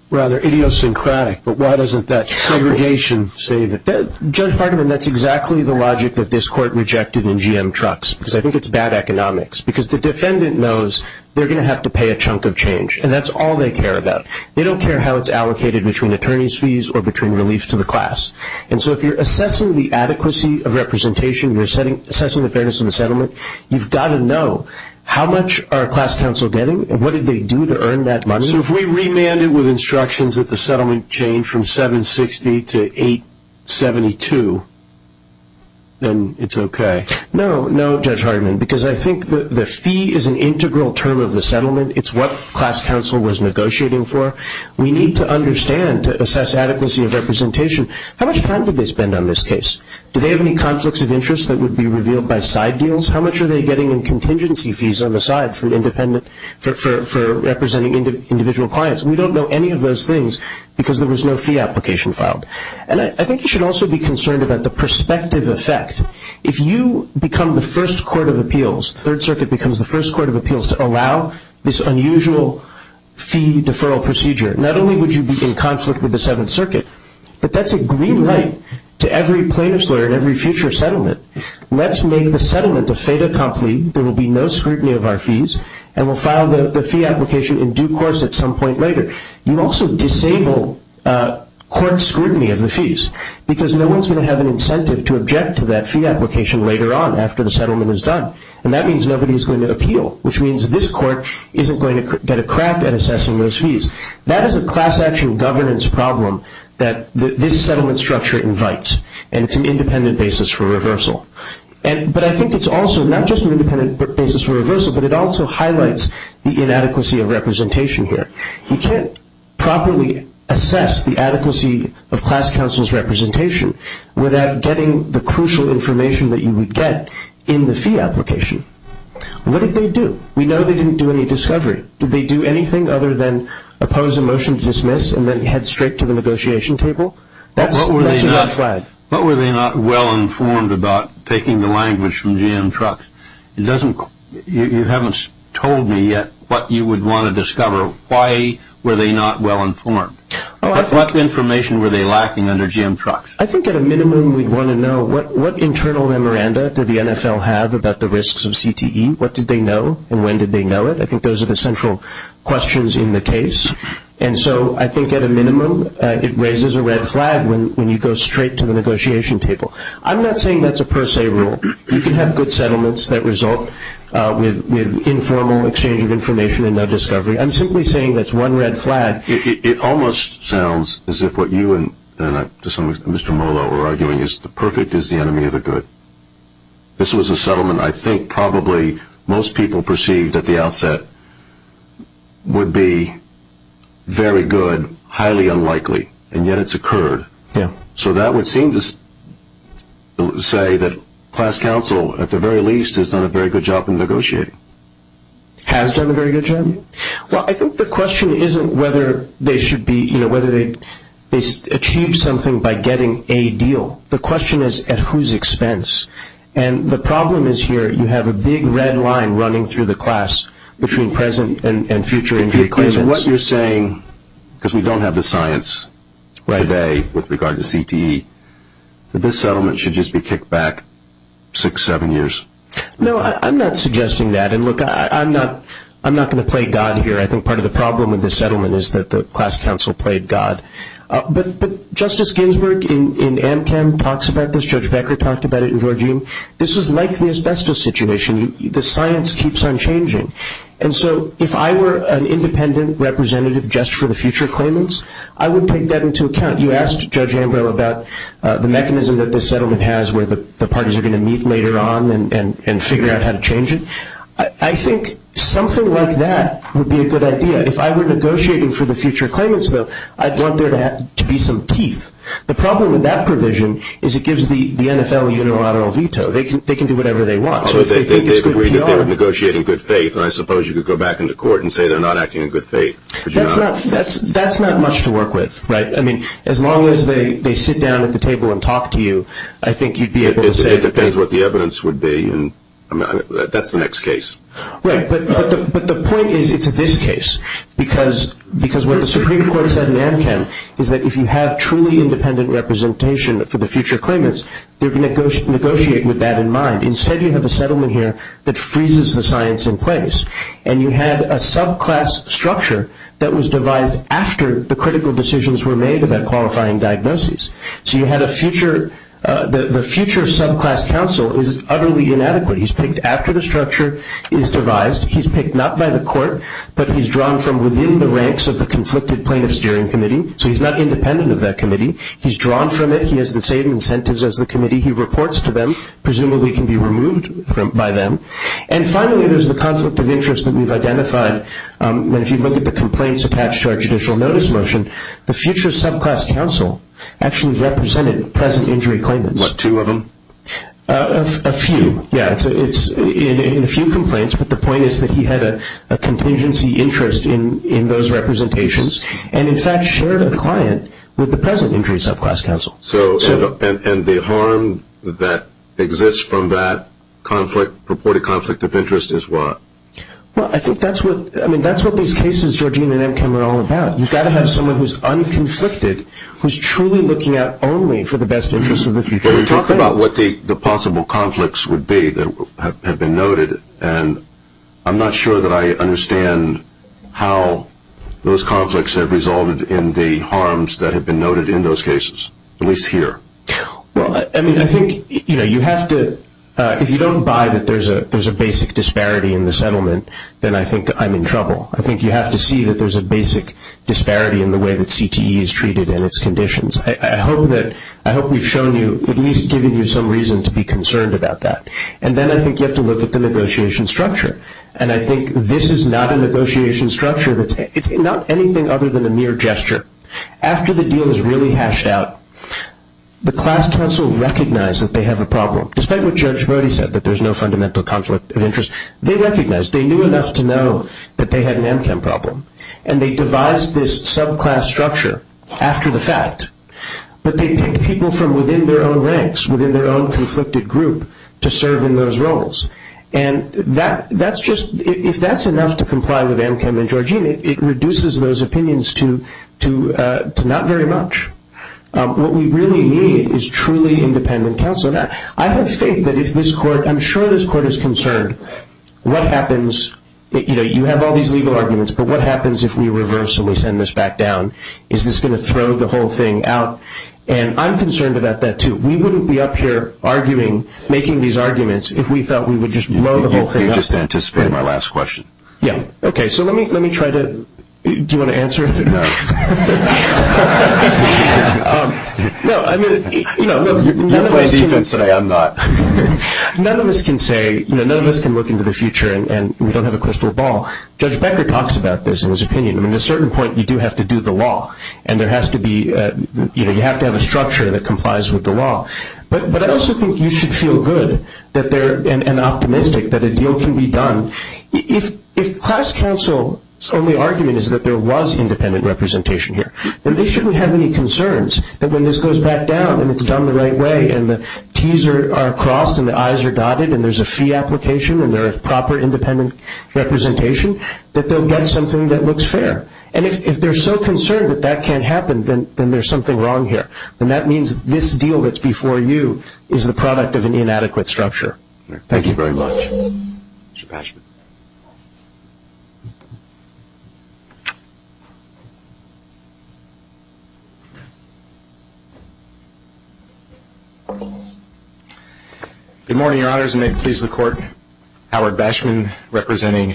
rather idiosyncratic, but why doesn't that segregation save it? Judge Parderman, that's exactly the logic that this court rejected in GM Trucks, because I think it's bad economics, because the defendant knows they're going to have to pay a chunk of change, and that's all they care about. They don't care how it's allocated between attorney's fees or between reliefs to the class. And so if you're assessing the adequacy of representation, you're assessing the fairness of the settlement, you've got to know how much are class counsel getting and what did they do to earn that money. So if we remand it with instructions that the settlement change from $760 to $872, then it's okay? No, no, Judge Hardman, because I think the fee is an integral term of the settlement. It's what class counsel was negotiating for. We need to understand, to assess adequacy of representation, how much time did they spend on this case? Did they have any conflicts of interest that would be revealed by side deals? How much are they getting in contingency fees on the side for representing individual clients? We don't know any of those things because there was no fee application filed. And I think you should also be concerned about the prospective effect. If you become the first court of appeals, Third Circuit becomes the first court of appeals to allow this unusual fee deferral procedure, not only would you be in conflict with the Seventh Circuit, but that's a green light to every plaintiff's lawyer and every future settlement. Let's make the settlement a fait accompli. There will be no scrutiny of our fees, and we'll file the fee application in due course at some point later. You also disable court scrutiny of the fees because no one's going to have an incentive to object to that fee application later on after the settlement is done. And that means nobody's going to appeal, which means this court isn't going to get a crap at assessing those fees. That is a class-action governance problem that this settlement structure invites, and it's an independent basis for reversal. But I think it's also not just an independent basis for reversal, but it also highlights the inadequacy of representation here. You can't properly assess the adequacy of class counsel's representation without getting the crucial information that you would get in the fee application. What did they do? We know they didn't do any discovery. Did they do anything other than oppose a motion to dismiss and then head straight to the negotiation table? What were they not well-informed about taking the language from GM Trucks? You haven't told me yet what you would want to discover. Why were they not well-informed? What information were they lacking under GM Trucks? I think at a minimum we'd want to know what internal memoranda did the NFL have about the risks of CTE? What did they know, and when did they know it? I think those are the central questions in the case. And so I think at a minimum it raises a red flag when you go straight to the negotiation table. I'm not saying that's a per se rule. You can have good settlements that result with informal exchange of information and no discovery. I'm simply saying that's one red flag. It almost sounds as if what you and Mr. Molo are arguing is the perfect is the enemy of the good. This was a settlement I think probably most people perceived at the outset would be very good, highly unlikely, and yet it's occurred. So that would seem to say that class counsel at the very least has done a very good job in negotiating. Has done a very good job? Well, I think the question isn't whether they should be, you know, whether they achieved something by getting a deal. The question is at whose expense. And the problem is here you have a big red line running through the class between present and future agreements. Because what you're saying, because we don't have the science today with regard to CTE, that this settlement should just be kicked back six, seven years. No, I'm not suggesting that. And, look, I'm not going to play God here. I think part of the problem with this settlement is that the class counsel played God. But Justice Ginsburg in AmCan talks about this. Judge Becker talked about it in Georgene. This is like the asbestos situation. The science keeps on changing. And so if I were an independent representative just for the future claimants, I would take that into account. You asked Judge Ambrose about the mechanism that this settlement has where the parties are going to meet later on and figure out how to change it. I think something like that would be a good idea. If I were negotiating for the future claimants vote, I'd want there to be some teeth. The problem with that provision is it gives the NFL a unilateral veto. They can do whatever they want. So if they think it's good PR. They're negotiating in good faith, and I suppose you could go back into court and say they're not acting in good faith. That's not much to work with. I mean, as long as they sit down at the table and talk to you, I think you'd be able to say. It depends what the evidence would be, and that's the next case. Right, but the point is it's this case. Because what the Supreme Court said in AmCamp is that if you have truly independent representation for the future claimants, they're going to negotiate with that in mind. Instead, you have a settlement here that freezes the science in place. And you have a subclass structure that was devised after the critical decisions were made about qualifying diagnoses. So you had a future – the future subclass counsel is utterly inadequate. He's picked after the structure is devised. He's picked not by the court, but he's drawn from within the ranks of the conflicted plaintiff's steering committee. So he's not independent of that committee. He's drawn from it. He has the same incentives as the committee. He reports to them, presumably can be removed by them. And finally, there's the conflict of interest that we've identified. If you look at the complaints attached to our judicial notice motion, the future subclass counsel actually represented present injury claimants. What, two of them? A few, yeah. It's in a few complaints, but the point is that he had a contingency interest in those representations and, in fact, shared a client with the present injury subclass counsel. So – and the harm that exists from that conflict, purported conflict of interest, is what? Well, I think that's what – I mean, that's what these cases, Georgina and Emkin, are all about. You've got to have someone who's unconflicted, who's truly looking out only for the best interest of the future. Talk about what the possible conflicts would be that have been noted, and I'm not sure that I understand how those conflicts have resulted in the harms that have been noted in those cases, at least here. I mean, I think, you know, you have to – if you don't buy that there's a basic disparity in the settlement, then I think I'm in trouble. I think you have to see that there's a basic disparity in the way that CTE is treated and its conditions. I hope that – I hope we've shown you – at least given you some reason to be concerned about that. And then I think you have to look at the negotiation structure, and I think this is not a negotiation structure that's – it's not anything other than a mere gesture. After the deal is really hashed out, the class counsel recognize that they have a problem. Despite what Judge Modi said, that there's no fundamental conflict of interest, they recognize. They knew enough to know that they had an Emkin problem, and they devised this subclass structure after the fact. But they picked people from within their own ranks, within their own conflicted group, to serve in those roles. And that's just – if that's enough to comply with Emkin and Georgine, it reduces those opinions to not very much. What we really need is truly independent counsel. I have faith that if this court – I'm sure this court is concerned what happens – you know, what happens if we reverse and we send this back down? Is this going to throw the whole thing out? And I'm concerned about that, too. We wouldn't be up here arguing, making these arguments, if we felt we would just blow the whole thing up. You're just anticipating my last question. Yeah. Okay, so let me try to – do you want to answer it? No. No, I mean – You can say I'm not. None of us can say – you know, none of us can look into the future and we don't have a crystal ball. Judge Becker talks about this in his opinion. I mean, at a certain point, you do have to do the law, and there has to be – you know, you have to have a structure that complies with the law. But I also think you should feel good that there – and optimistic that a deal can be done. If class counsel's only argument is that there was independent representation here, then they shouldn't have any concerns that when this goes back down and it's done the right way and the T's are crossed and the I's are dotted and there's a fee application and there is proper independent representation that they'll get something that looks fair. And if they're so concerned that that can't happen, then there's something wrong here. And that means this deal that's before you is the product of an inadequate structure. Thank you very much. Mr. Bashman. Good morning, Your Honors. May it please the Court, Howard Bashman representing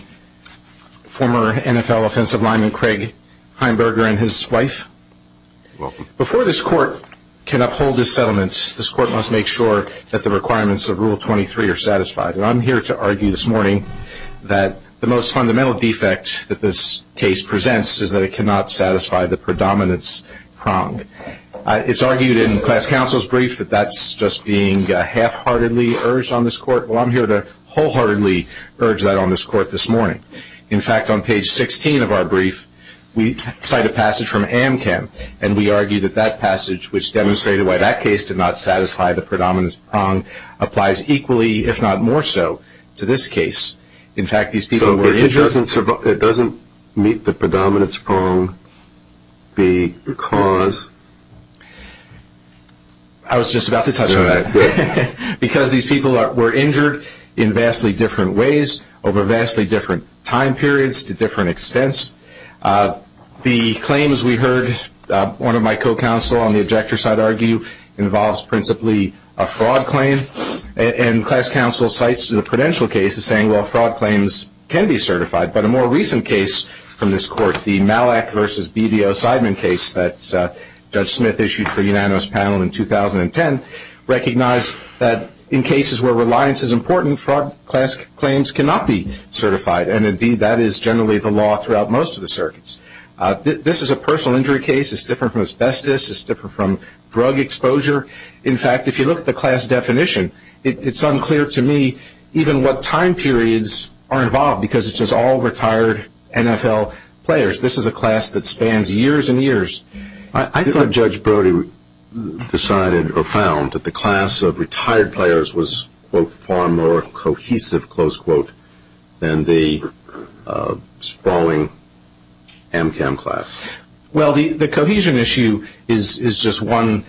former NFL offensive lineman Craig Heimberger and his wife. Welcome. Before this Court can uphold this settlement, this Court must make sure that the requirements of Rule 23 are satisfied. And I'm here to argue this morning that the most fundamental defect that this case presents is that it cannot satisfy the predominance prong. It's argued in class counsel's brief that that's just being half-heartedly urged on this Court. Well, I'm here to wholeheartedly urge that on this Court this morning. In fact, on page 16 of our brief, we cite a passage from Amcan, and we argue that that passage, which demonstrated why that case did not satisfy the predominance prong, applies equally, if not more so, to this case. In fact, these people were injured. So it doesn't meet the predominance prong because? I was just about to touch on that. Because these people were injured in vastly different ways over vastly different time periods to different extents. The claims we heard one of my co-counsel on the objector side argue involves principally a fraud claim. And class counsel cites the prudential case as saying, well, fraud claims can be certified. But a more recent case from this Court, the Malak v. BDO-Seidman case that Judge Smith issued for the unanimous panel in 2010, recognized that in cases where reliance is important, fraud class claims cannot be certified. And, indeed, that is generally the law throughout most of the circuits. This is a personal injury case. It's different from asbestos. It's different from drug exposure. In fact, if you look at the class definition, it's unclear to me even what time periods are involved because it says all retired NFL players. This is a class that spans years and years. I thought Judge Brody decided or found that the class of retired players was, quote, far more cohesive, close quote, than the sprawling Amcam class. Well, the cohesion issue is just one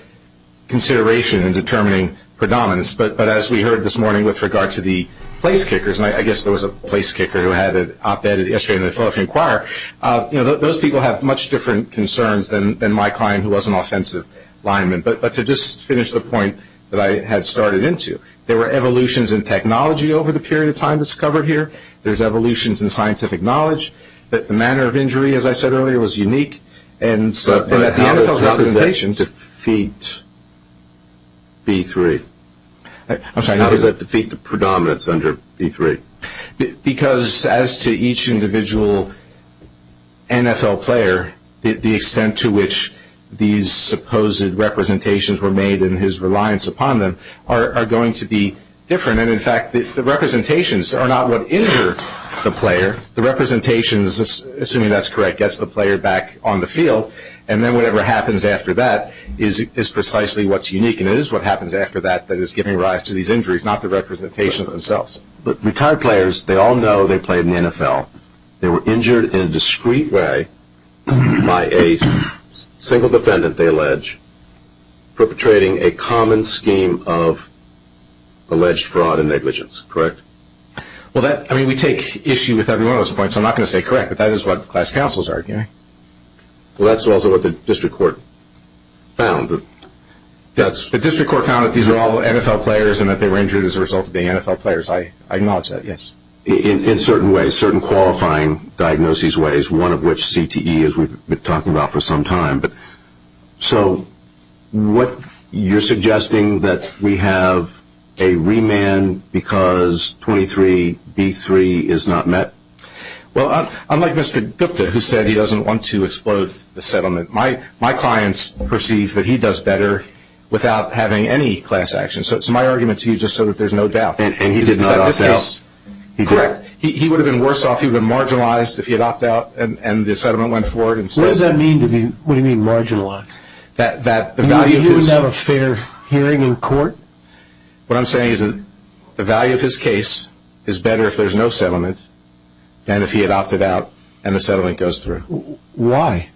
consideration in determining predominance. But as we heard this morning with regard to the place kickers, and I guess there was a place kicker who had an op-ed yesterday in the Philadelphia Enquirer, those people have much different concerns than my client who was an offensive lineman. But to just finish the point that I had started into, there were evolutions in technology over the period of time that's covered here. There's evolutions in scientific knowledge. The manner of injury, as I said earlier, was unique. And at the end of the presentation. How does that defeat V3? How does that defeat the predominance under V3? Because as to each individual NFL player, the extent to which these supposed representations were made in his reliance upon them are going to be different. And, in fact, the representations are not what injure the player. The representations, assuming that's correct, gets the player back on the field. And then whatever happens after that is precisely what's unique. And it is what happens after that that is giving rise to these injuries, not the representation of themselves. But retired players, they all know they played in the NFL. They were injured in a discreet way by a single defendant, they allege, perpetrating a common scheme of alleged fraud and negligence, correct? Well, I mean, we take issue with every one of those points. I'm not going to say correct, but that is what class counsels argue. Well, that's also what the district court found. The district court found that these were all NFL players and that they were injured as a result of being NFL players. I acknowledge that, yes. In certain ways, certain qualifying diagnoses ways, one of which CTE, as we've been talking about for some time. So you're suggesting that we have a remand because 23V3 is not met? Well, unlike Mr. Gupta, who said he doesn't want to explode the settlement, my clients perceive that he does better without having any class action. So it's my argument to you just so that there's no doubt. And he didn't set out to help? Correct. He would have been worse off, he would have been marginalized if he had opted out and the settlement went forward. What does that mean when you mean marginalized? That the value of his – Isn't that a fair hearing in court? What I'm saying is the value of his case is better if there's no settlement than if he had opted out and the settlement goes through. Why?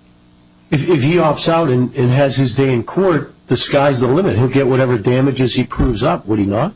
If he opts out and has his day in court, the sky's the limit. He'll get whatever damages he proves up, would he not?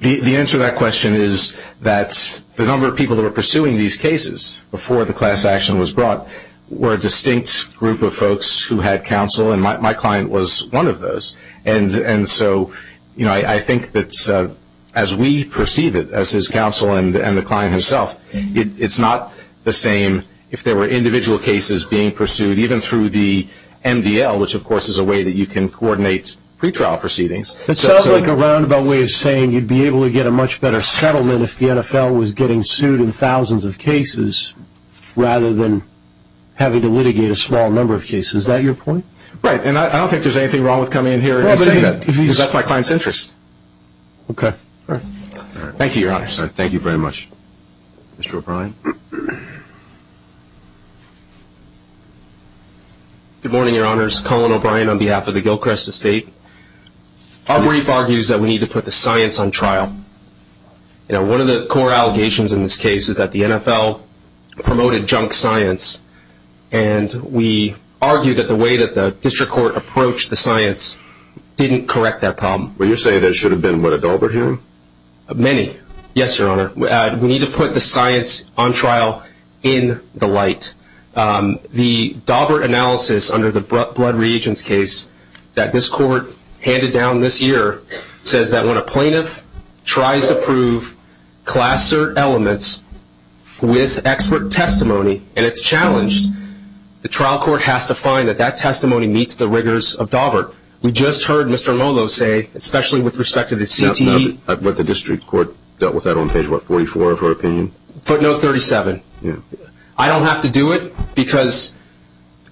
The answer to that question is that the number of people that were pursuing these cases before the class action was brought were a distinct group of folks who had counsel, and my client was one of those. And so I think that as we perceive it, as his counsel and the client himself, it's not the same if there were individual cases being pursued even through the MDL, which of course is a way that you can coordinate pretrial proceedings. It sounds like a roundabout way of saying you'd be able to get a much better settlement if the NFL was getting sued in thousands of cases rather than having to litigate a small number of cases. Is that your point? Right. And I don't think there's anything wrong with coming in here and saying that because that's my client's interest. Okay. Thank you, Your Honor. Thank you very much. Mr. O'Brien. Good morning, Your Honors. Colin O'Brien on behalf of the Gilchrist Estate. Our brief argues that we need to put the science on trial. One of the core allegations in this case is that the NFL promoted junk science, and we argue that the way that the district court approached the science didn't correct that problem. Well, you're saying there should have been a dauber hearing? Many. Yes, Your Honor. We need to put the science on trial in the light. The dauber analysis under the blood reagents case that this court handed down this year says that when a plaintiff tries to prove cluster elements with expert testimony and it's challenged, the trial court has to find that that testimony meets the rigors of dauber. We just heard Mr. Lolo say, especially with respect to the CTE. I've read the district court dealt with that on page, what, 44 of her opinion? Footnote 37. Yeah. I don't have to do it because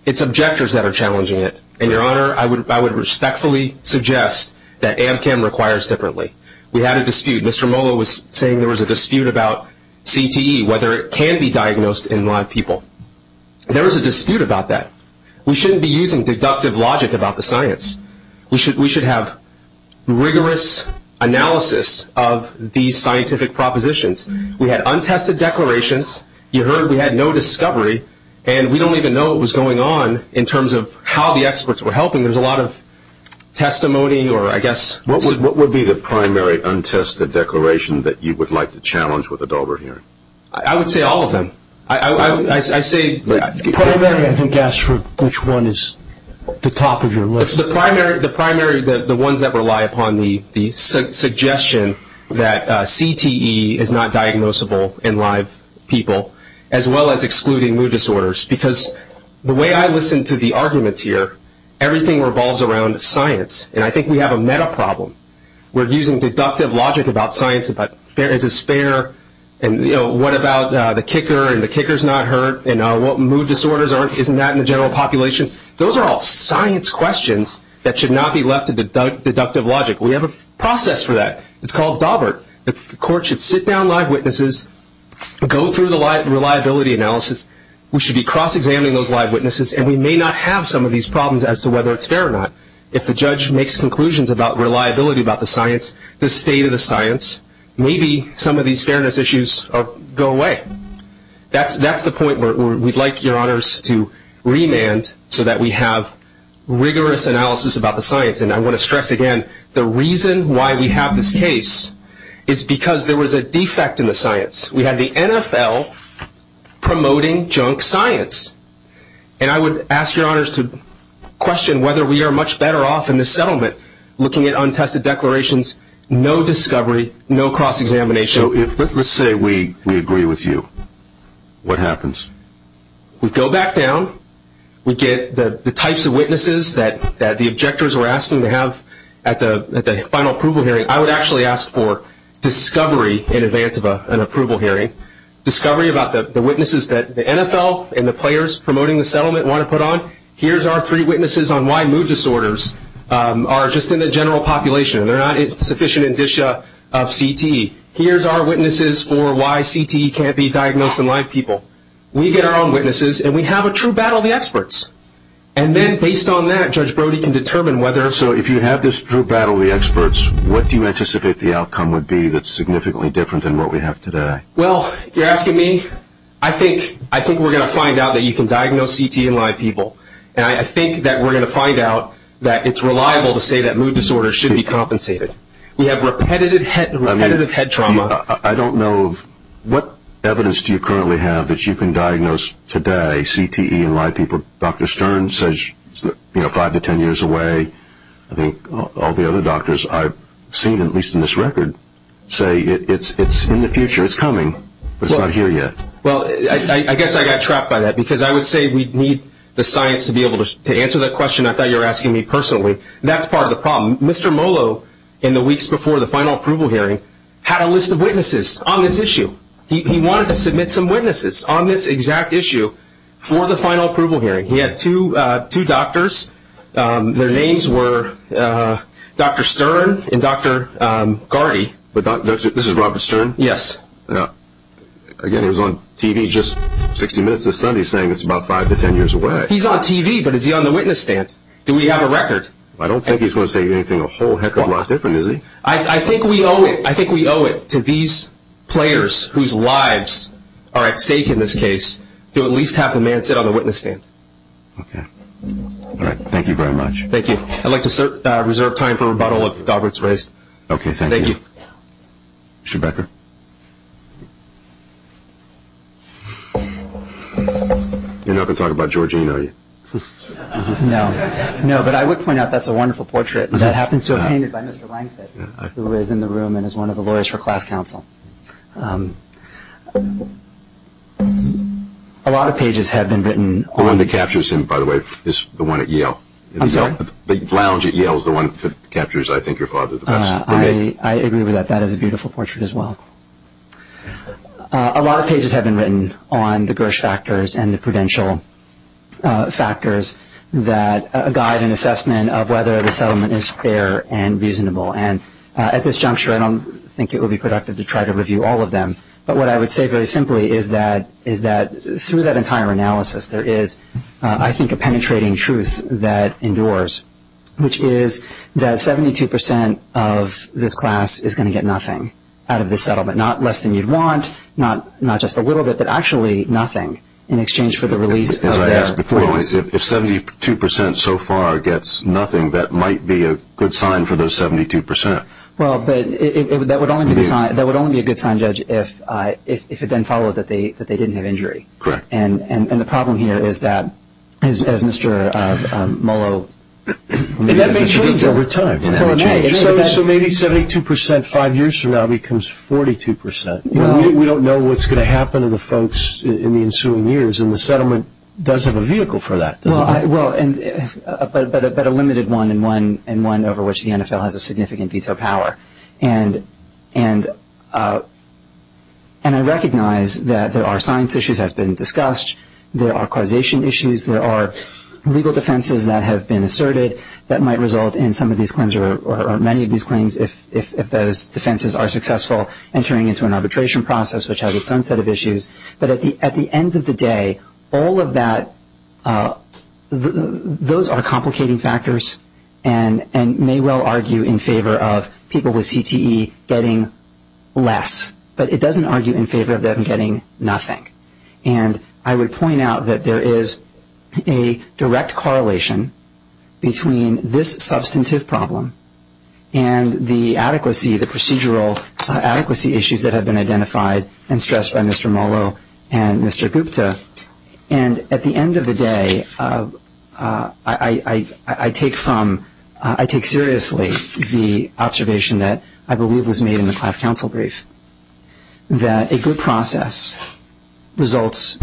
it's objectors that are challenging it. And, Your Honor, I would respectfully suggest that AMCAM requires differently. We had a dispute. Mr. Lolo was saying there was a dispute about CTE, whether it can be diagnosed in blind people. There was a dispute about that. We shouldn't be using deductive logic about the science. We should have rigorous analysis of these scientific propositions. We had untested declarations. You heard we had no discovery, and we don't even know what was going on in terms of how the experts were helping. I mean, there's a lot of testimony or I guess. What would be the primary untested declaration that you would like to challenge with a dauber hearing? I would say all of them. I say. The primary, I think, asked which one is the top of your list. The primary is the ones that rely upon the suggestion that CTE is not diagnosable in live people, as well as excluding mood disorders. Because the way I listen to the arguments here, everything revolves around science, and I think we have a meta problem. We're using deductive logic about science, about fair and disfair, and, you know, what about the kicker and the kicker's not hurt, and what mood disorders aren't. Isn't that in the general population? Those are all science questions that should not be left to deductive logic. We have a process for that. It's called dauber. The court should sit down live witnesses, go through the reliability analysis. We should be cross-examining those live witnesses, and we may not have some of these problems as to whether it's fair or not. If the judge makes conclusions about reliability about the science, the state of the science, maybe some of these fairness issues go away. That's the point where we'd like your honors to remand so that we have rigorous analysis about the science. And I want to stress again, the reason why we have this case is because there was a defect in the science. We had the NFL promoting junk science, and I would ask your honors to question whether we are much better off in this settlement looking at untested declarations, no discovery, no cross-examination. So let's say we agree with you. What happens? We go back down. We get the types of witnesses that the objectors were asking to have at the final approval hearing. I would actually ask for discovery in advance of an approval hearing, discovery about the witnesses that the NFL and the players promoting the settlement want to put on. Here's our three witnesses on why mood disorders are just in the general population, and they're not sufficient indicia of CTE. Here's our witnesses for why CTE can't be diagnosed in live people. We get our own witnesses, and we have a true battle of the experts. And then based on that, Judge Brody can determine whether or not. Based on this true battle of the experts, what do you anticipate the outcome would be that's significantly different than what we have today? Well, you're asking me? I think we're going to find out that you can diagnose CTE in live people, and I think that we're going to find out that it's reliable to say that mood disorders should be compensated. We have repetitive head trauma. I don't know. What evidence do you currently have that you can diagnose today CTE in live people? Dr. Stern says five to ten years away. I think all the other doctors I've seen, at least in this record, say it's in the future. It's coming. It's not here yet. Well, I guess I got trapped by that because I would say we need the science to be able to answer that question. I thought you were asking me personally. That's part of the problem. Mr. Molo, in the weeks before the final approval hearing, had a list of witnesses on this issue. He wanted to submit some witnesses on this exact issue for the final approval hearing. He had two doctors. Their names were Dr. Stern and Dr. Gardy. This is Robert Stern? Yes. Again, he was on TV just 60 minutes this Sunday saying it's about five to ten years away. He's on TV, but is he on the witness stand? Do we have a record? I don't think he's going to say anything a whole heck of a lot different, is he? I think we owe it to these players whose lives are at stake in this case to at least have the man sit on the witness stand. Okay. All right. Thank you very much. Thank you. I'd like to reserve time for a rebuttal of Robert's race. Okay. Thank you. Thank you. Rebecca? You're not going to talk about Georgina, are you? No. No, but I would point out that's a wonderful portrait. That happens to have been painted by Mr. Lankford, who is in the room and is one of the lawyers for class council. A lot of pages have been written. The one that captures him, by the way, is the one at Yale. I'm sorry? The lounge at Yale is the one that captures, I think, your father the best. I agree with that. That is a beautiful portrait as well. A lot of pages have been written on the Gersh factors and the prudential factors that guide an assessment of whether the settlement is fair and reasonable. At this juncture, I don't think it would be productive to try to review all of them, but what I would say very simply is that through that entire analysis, there is, I think, a penetrating truth that endures, which is that 72 percent of this class is going to get nothing out of this settlement, not less than you'd want, not just a little bit, but actually nothing in exchange for the release. As I asked before, if 72 percent so far gets nothing, that might be a good sign for those 72 percent. Well, that would only be a good sign, Judge, if it then follows that they didn't have injury. Correct. And the problem here is that, as Mr. Mollo made clear over time. So maybe 72 percent five years from now becomes 42 percent. We don't know what's going to happen to the folks in the ensuing years, and the settlement does have a vehicle for that. Well, but a limited one and one over which the NFL has a significant veto power. And I recognize that there are science issues that have been discussed. There are causation issues. There are legal defenses that have been asserted that might result in some of these claims or many of these claims if those defenses are successful entering into an arbitration process, which has its own set of issues. But at the end of the day, all of that, those are complicating factors and may well argue in favor of people with CTE getting less. But it doesn't argue in favor of them getting nothing. And I would point out that there is a direct correlation between this substantive problem and the adequacy, the procedural adequacy issues that have been identified and stressed by Mr. Mollo and Mr. Gupta. And at the end of the day, I take seriously the observation that I believe was made in the class council brief, that a good process leads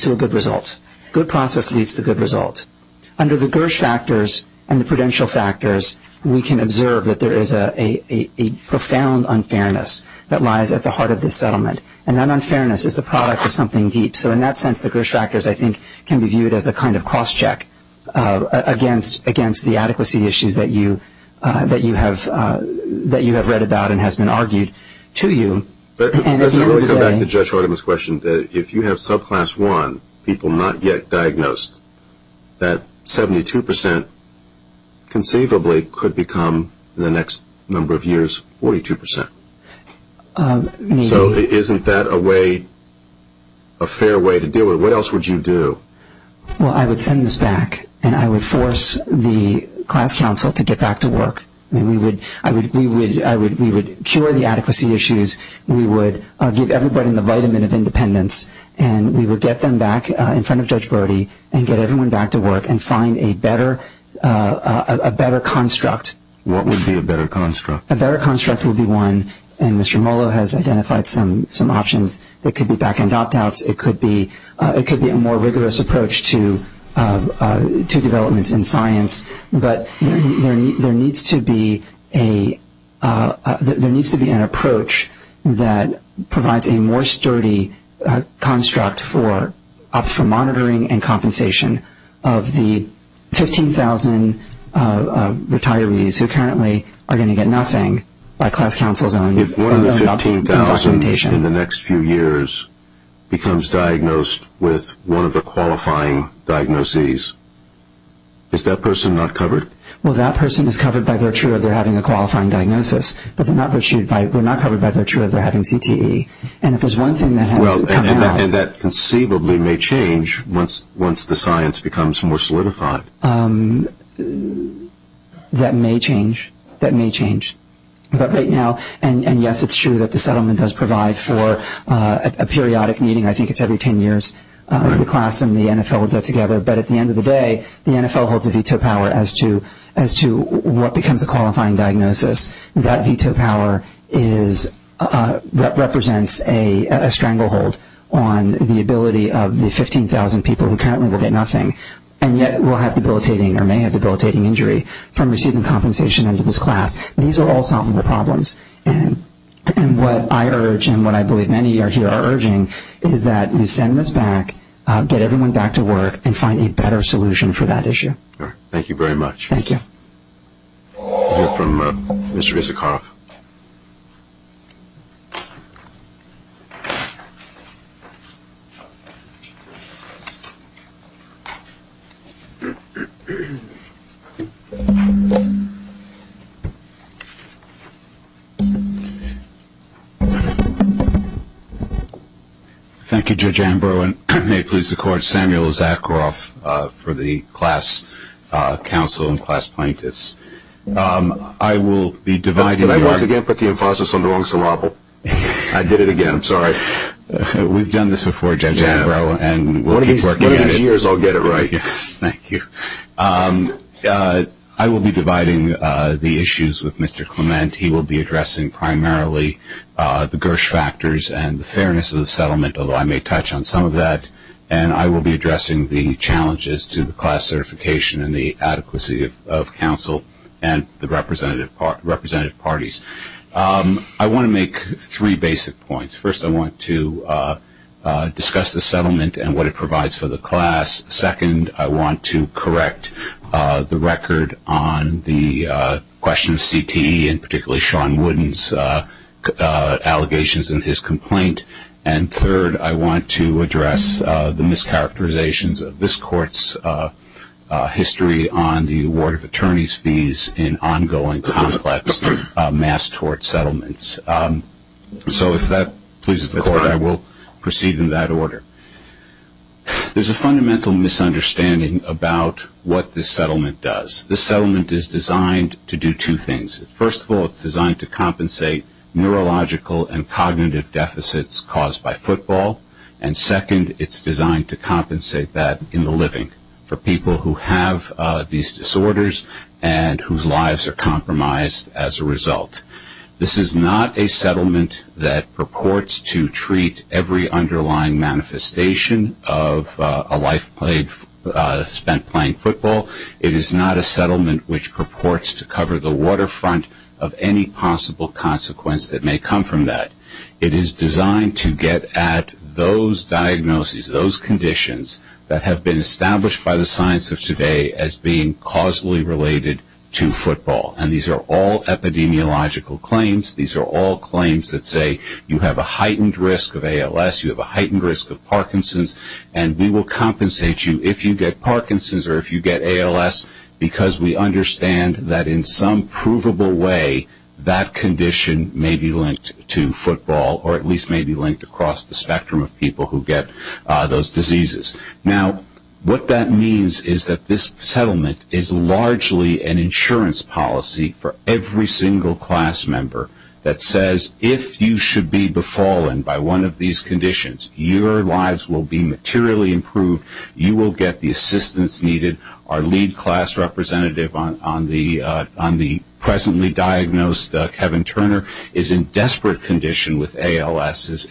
to a good result. A good process leads to good results. Under the GERSH factors and the prudential factors, we can observe that there is a profound unfairness that lies at the heart of this settlement. And that unfairness is the product of something deep. So in that sense, the GERSH factors, I think, can be viewed as a kind of cost check against the adequacy issues that you have read about and has been argued to you. Let me come back to Judge Hardiman's question. If you have subclass one people not yet diagnosed, that 72% conceivably could become in the next number of years 42%. So isn't that a way, a fair way to deal with it? What else would you do? Well, I would turn this back and I would force the class council to get back to work. We would cure the adequacy issues. We would give everybody the vitamin of independence. And we would get them back in front of Judge Brody and get everyone back to work and find a better construct. What would be a better construct? A better construct would be one, and Mr. Mollo has identified some options. It could be back-end opt-outs. It could be a more rigorous approach to development in science. But there needs to be an approach that provides a more sturdy construct for monitoring and compensation of the 15,000 retirees who currently are going to get nothing by class council. If one of the 15,000 in the next few years becomes diagnosed with one of the qualifying diagnoses, is that person not covered? Well, that person is covered by their CHURA. They're having a qualifying diagnosis, but they're not covered by their CHURA. They're having CTE. And if there's one thing that has come out. And that conceivably may change once the science becomes more solidified. That may change. That may change. But right now, and yes, it's true that the settlement does provide for a periodic meeting. I think it's every 10 years. The class and the NFL would go together. But at the end of the day, the NFL holds a veto power as to what becomes a qualifying diagnosis. That veto power represents a stranglehold on the ability of the 15,000 people who currently will get nothing, and yet will have debilitating or may have debilitating injury from receiving compensation under this class. These are all solvable problems. And what I urge and what I believe many of you are urging is that we send this back, get everyone back to work, and find a better solution for that issue. All right. Thank you very much. Thank you. We'll hear from Mr. Isikoff. Thank you. Thank you, Judge Amber. And may it please the Court, Samuel Isikoff for the class counsel and class plaintiffs. I will be dividing the- Can I once again put the emphasis on the long syllable? I did it again. I'm sorry. We've done this before, Judge Amber, and we'll keep working on it. In 10 years, I'll get it right. Thank you. I will be dividing the issues with Mr. Clement. He will be addressing primarily the Gersh factors and the fairness of the settlement, although I may touch on some of that. And I will be addressing the challenges to the class certification and the adequacy of counsel and the representative parties. I want to make three basic points. First, I want to discuss the settlement and what it provides for the class. Second, I want to correct the record on the question of CTE and particularly Sean Wooden's allegations and his complaint. And third, I want to address the mischaracterizations of this court's history on the award of attorney's fees in ongoing complex mass tort settlements. So, if that pleases the Court, I will proceed in that order. There's a fundamental misunderstanding about what this settlement does. This settlement is designed to do two things. First of all, it's designed to compensate neurological and cognitive deficits caused by football. And second, it's designed to compensate that in the living for people who have these disorders and whose lives are compromised as a result. This is not a settlement that purports to treat every underlying manifestation of a life spent playing football. It is not a settlement which purports to cover the waterfront of any possible consequence that may come from that. It is designed to get at those diagnoses, those conditions that have been established by the science of today as being causally related to football. And these are all epidemiological claims. These are all claims that say you have a heightened risk of ALS, you have a heightened risk of Parkinson's, and we will compensate you if you get Parkinson's or if you get ALS because we understand that in some provable way, that condition may be linked to football or at least may be linked across the spectrum of people who get those diseases. Now, what that means is that this settlement is largely an insurance policy for every single class member that says, if you should be befallen by one of these conditions, your lives will be materially improved. You will get the assistance needed. Our lead class representative on the presently diagnosed Kevin Turner is in desperate condition with ALS.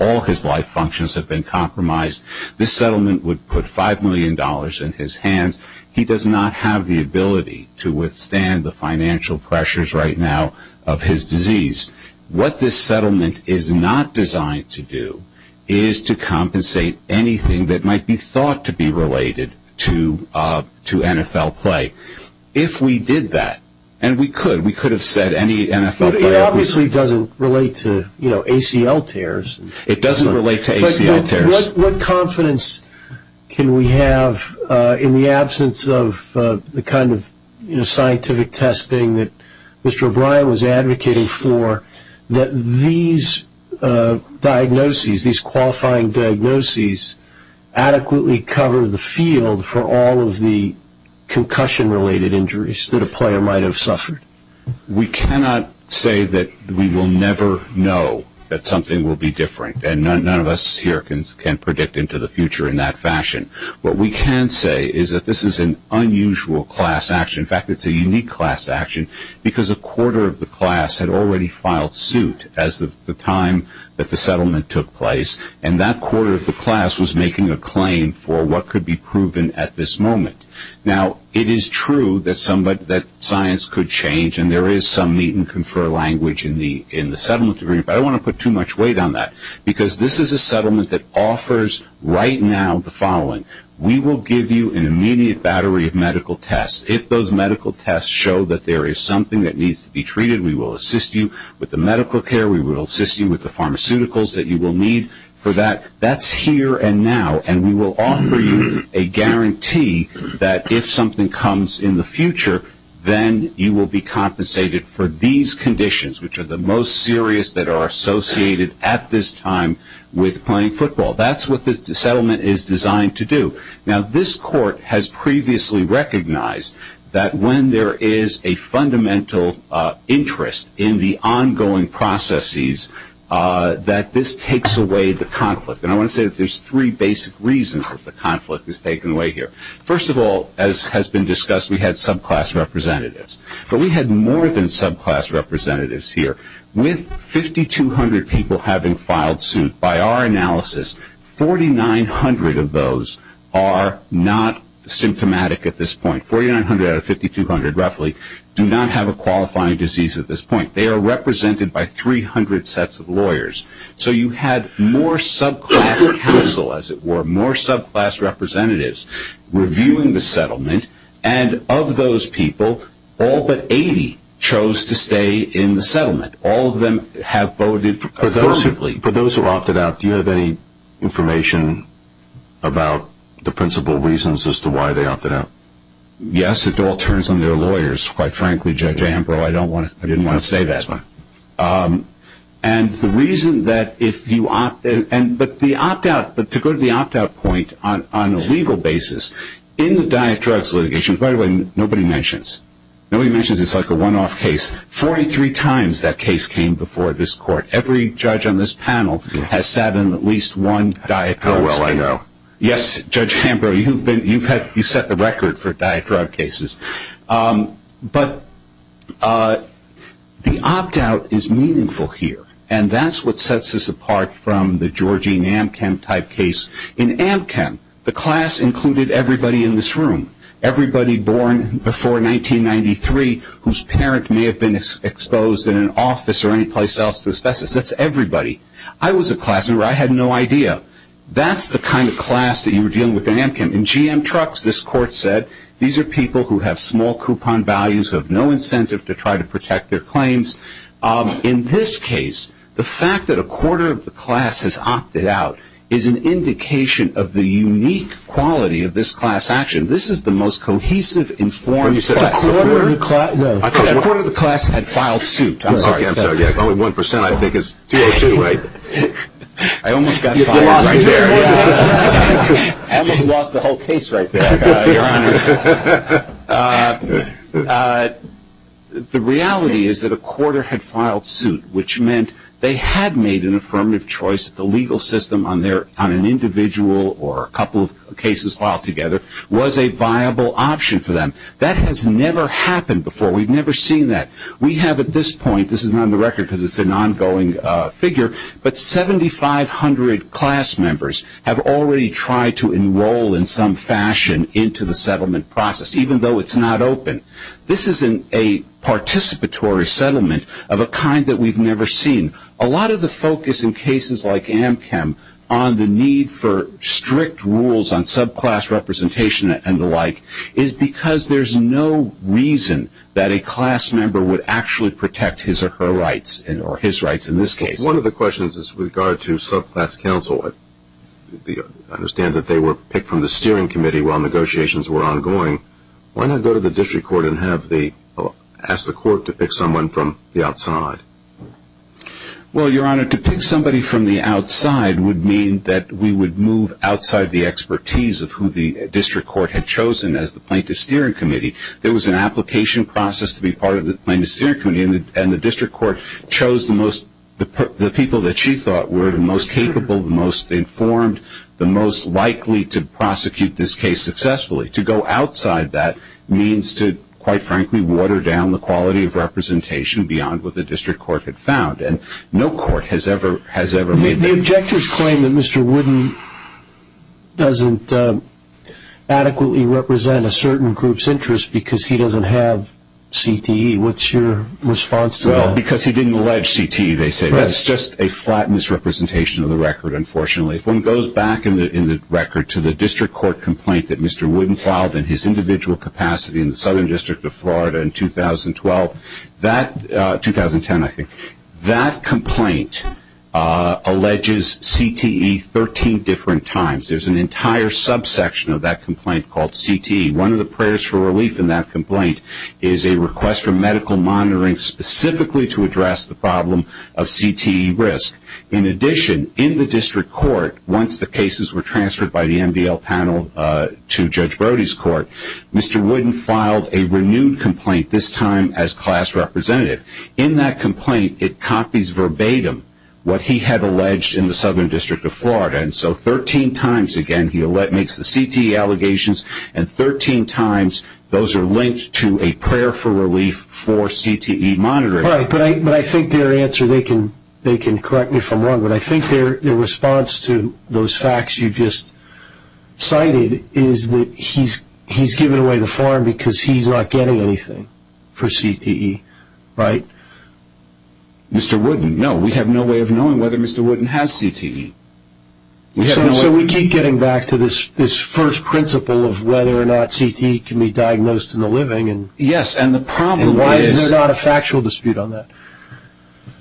All his life functions have been compromised. This settlement would put $5 million in his hand. He does not have the ability to withstand the financial pressures right now of his disease. What this settlement is not designed to do is to compensate anything that might be thought to be related to NFL play. If we did that, and we could, we could have said any NFL play. It obviously doesn't relate to ACL tears. It doesn't relate to ACL tears. What confidence can we have in the absence of the kind of scientific testing that Mr. O'Brien was advocating for, that these diagnoses, these qualifying diagnoses, adequately cover the field for all of the concussion-related injuries that a player might have suffered? We cannot say that we will never know that something will be different. None of us here can predict into the future in that fashion. What we can say is that this is an unusual class action. In fact, it's a unique class action because a quarter of the class had already filed suit at the time that the settlement took place, and that quarter of the class was making a claim for what could be proven at this moment. Now, it is true that science could change, and there is some need and confer language in the settlement. I don't want to put too much weight on that because this is a settlement that offers right now the following. We will give you an immediate battery of medical tests. If those medical tests show that there is something that needs to be treated, we will assist you with the medical care. We will assist you with the pharmaceuticals that you will need for that. That's here and now, and we will offer you a guarantee that if something comes in the future, then you will be compensated for these conditions, which are the most serious that are associated at this time with playing football. That's what the settlement is designed to do. Now, this court has previously recognized that when there is a fundamental interest in the ongoing processes, that this takes away the conflict, and I want to say that there's three basic reasons that the conflict is taken away here. First of all, as has been discussed, we had subclass representatives, but we had more than subclass representatives here. With 5,200 people having filed suit, by our analysis, 4,900 of those are not symptomatic at this point. 4,900 out of 5,200, roughly, do not have a qualifying disease at this point. They are represented by 300 sets of lawyers. So you had more subclass counsel, as it were, more subclass representatives reviewing the settlement, and of those people, all but 80 chose to stay in the settlement. All of them have voted for those who opted out. Do you have any information about the principal reasons as to why they opted out? Yes, it all turns on their lawyers, quite frankly, Judge Ambrose. I didn't want to say that. And the reason that if you opt out, but to go to the opt-out point, on a legal basis, in the diet drugs litigation, quite frankly, nobody mentions it. Nobody mentions it. It's like a one-off case. 43 times that case came before this court. Every judge on this panel has sat on at least one diet drug case. Oh, well, I know. Yes, Judge Ambrose, you've set the record for diet drug cases. But the opt-out is meaningful here, and that's what sets us apart from the Georgene Amkamp type case. In Amkamp, the class included everybody in this room, everybody born before 1993, whose parent may have been exposed in an office or anyplace else to asbestos. That's everybody. I was a class member. I had no idea. That's the kind of class that you were dealing with in Amkamp. In GM trucks, this court said, these are people who have small coupon values, who have no incentive to try to protect their claims. In this case, the fact that a quarter of the class has opted out is an indication of the unique quality of this class action. This is the most cohesive, informed set. A quarter of the class had filed suit. Only one percent, I think, is too much. I almost lost the whole case right there. The reality is that a quarter had filed suit, which meant they had made an affirmative choice that the legal system on an individual or a couple of cases filed together was a viable option for them. That has never happened before. We've never seen that. We have at this point, this is not on the record because it's an ongoing figure, but 7,500 class members have already tried to enroll in some fashion into the settlement process, even though it's not open. This is a participatory settlement of a kind that we've never seen. A lot of the focus in cases like Amkamp on the need for strict rules on subclass representation and the like is because there's no reason that a class member would actually protect his or her rights or his rights in this case. One of the questions is with regard to subclass counsel. I understand that they were picked from the steering committee while negotiations were ongoing. Why not go to the district court and ask the court to pick someone from the outside? Well, Your Honor, to pick somebody from the outside would mean that we would move outside the expertise of who the district court had chosen as the plaintiff's steering committee. There was an application process to be part of the plaintiff's steering committee, and the district court chose the people that she thought were the most capable, the most informed, the most likely to prosecute this case successfully. To go outside that means to, quite frankly, water down the quality of representation beyond what the district court had found. The objectors claim that Mr. Wooden doesn't adequately represent a certain group's interest because he doesn't have CTE. What's your response to that? Because he didn't allege CTE, they say. That's just a flat misrepresentation of the record, unfortunately. If one goes back in the record to the district court complaint that Mr. Wooden filed in his individual capacity in the Southern District of Florida in 2012, 2010, I think, that complaint alleges CTE 13 different times. There's an entire subsection of that complaint called CTE. One of the prayers for relief in that complaint is a request for medical monitoring specifically to address the problem of CTE risk. In addition, in the district court, once the cases were transferred by the NBL panel to Judge Brody's court, Mr. Wooden filed a renewed complaint, this time as class representative. In that complaint, it copies verbatim what he had alleged in the Southern District of Florida, and so 13 times, again, he makes the CTE allegations, and 13 times those are linked to a prayer for relief for CTE monitoring. Right, but I think their answer, they can correct me if I'm wrong, but I think their response to those facts you just cited is that he's giving away the farm because he's not getting anything for CTE, right? Mr. Wooden, no, we have no way of knowing whether Mr. Wooden has CTE. So we keep getting back to this first principle of whether or not CTE can be diagnosed in the living. Yes, and the problem is... Why is there not a factual dispute on that?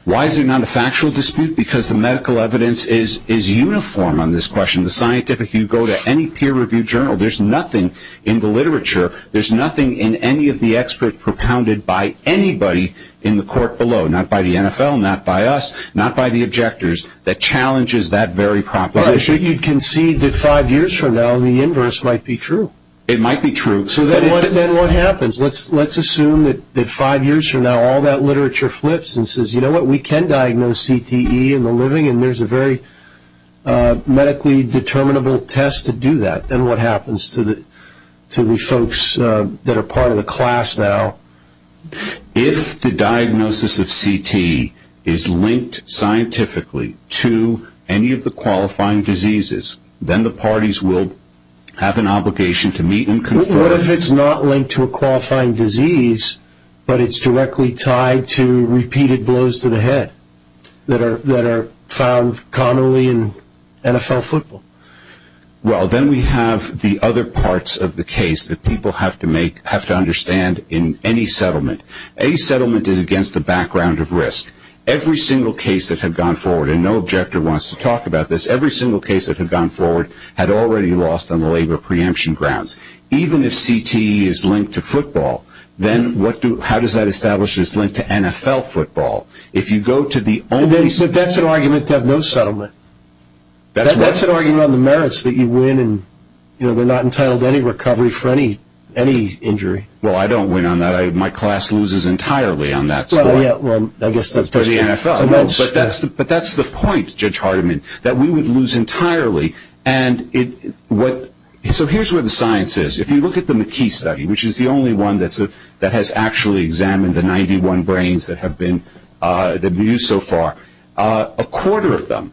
Why is there not a factual dispute? Because the medical evidence is uniform on this question. The scientific, if you go to any peer-reviewed journal, there's nothing in the literature, there's nothing in any of the experts propounded by anybody in the court below, not by the NFL, not by us, not by the objectors, that challenges that very proposition. Well, I think you can see that five years from now the inverse might be true. It might be true. So then what happens? Let's assume that five years from now all that literature flips and says, you know what, we can diagnose CTE in the living, and there's a very medically determinable test to do that. Then what happens to the folks that are part of the class now? If the diagnosis of CTE is linked scientifically to any of the qualifying diseases, then the parties will have an obligation to meet and conclude. What if it's not linked to a qualifying disease, but it's directly tied to repeated blows to the head that are found commonly in NFL football? Well, then we have the other parts of the case that people have to understand in any settlement. Any settlement is against the background of risk. Every single case that had gone forward, and no objector wants to talk about this, every single case that had gone forward had already lost on the labor preemption grounds. Even if CTE is linked to football, then how does that establish it's linked to NFL football? If you go to the only settlement. But that's an argument to have no settlement. That's an argument on the merits that you win and, you know, we're not entitled to any recovery for any injury. Well, I don't win on that. My class loses entirely on that. Well, yeah, I guess. For the NFL. But that's the point, Judge Hardiman, that we would lose entirely. And so here's where the science is. If you look at the McKee study, which is the only one that has actually examined the 91 brains that have been used so far, a quarter of them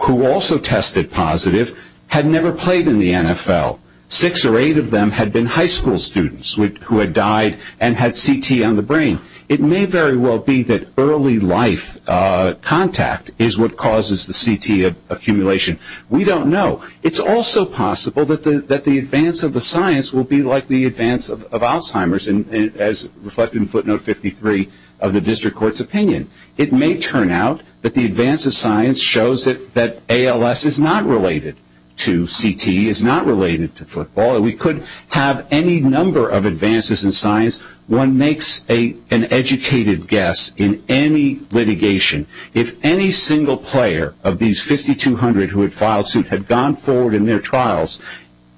who also tested positive had never played in the NFL. Six or eight of them had been high school students who had died and had CT on the brain. So it may very well be that early life contact is what causes the CT accumulation. We don't know. It's also possible that the advance of the science will be like the advance of Alzheimer's, as reflected in footnote 53 of the district court's opinion. It may turn out that the advance of science shows that ALS is not related to CT, is not related to football. We could have any number of advances in science. One makes an educated guess in any litigation. If any single player of these 5,200 who had filed suit had gone forward in their trials,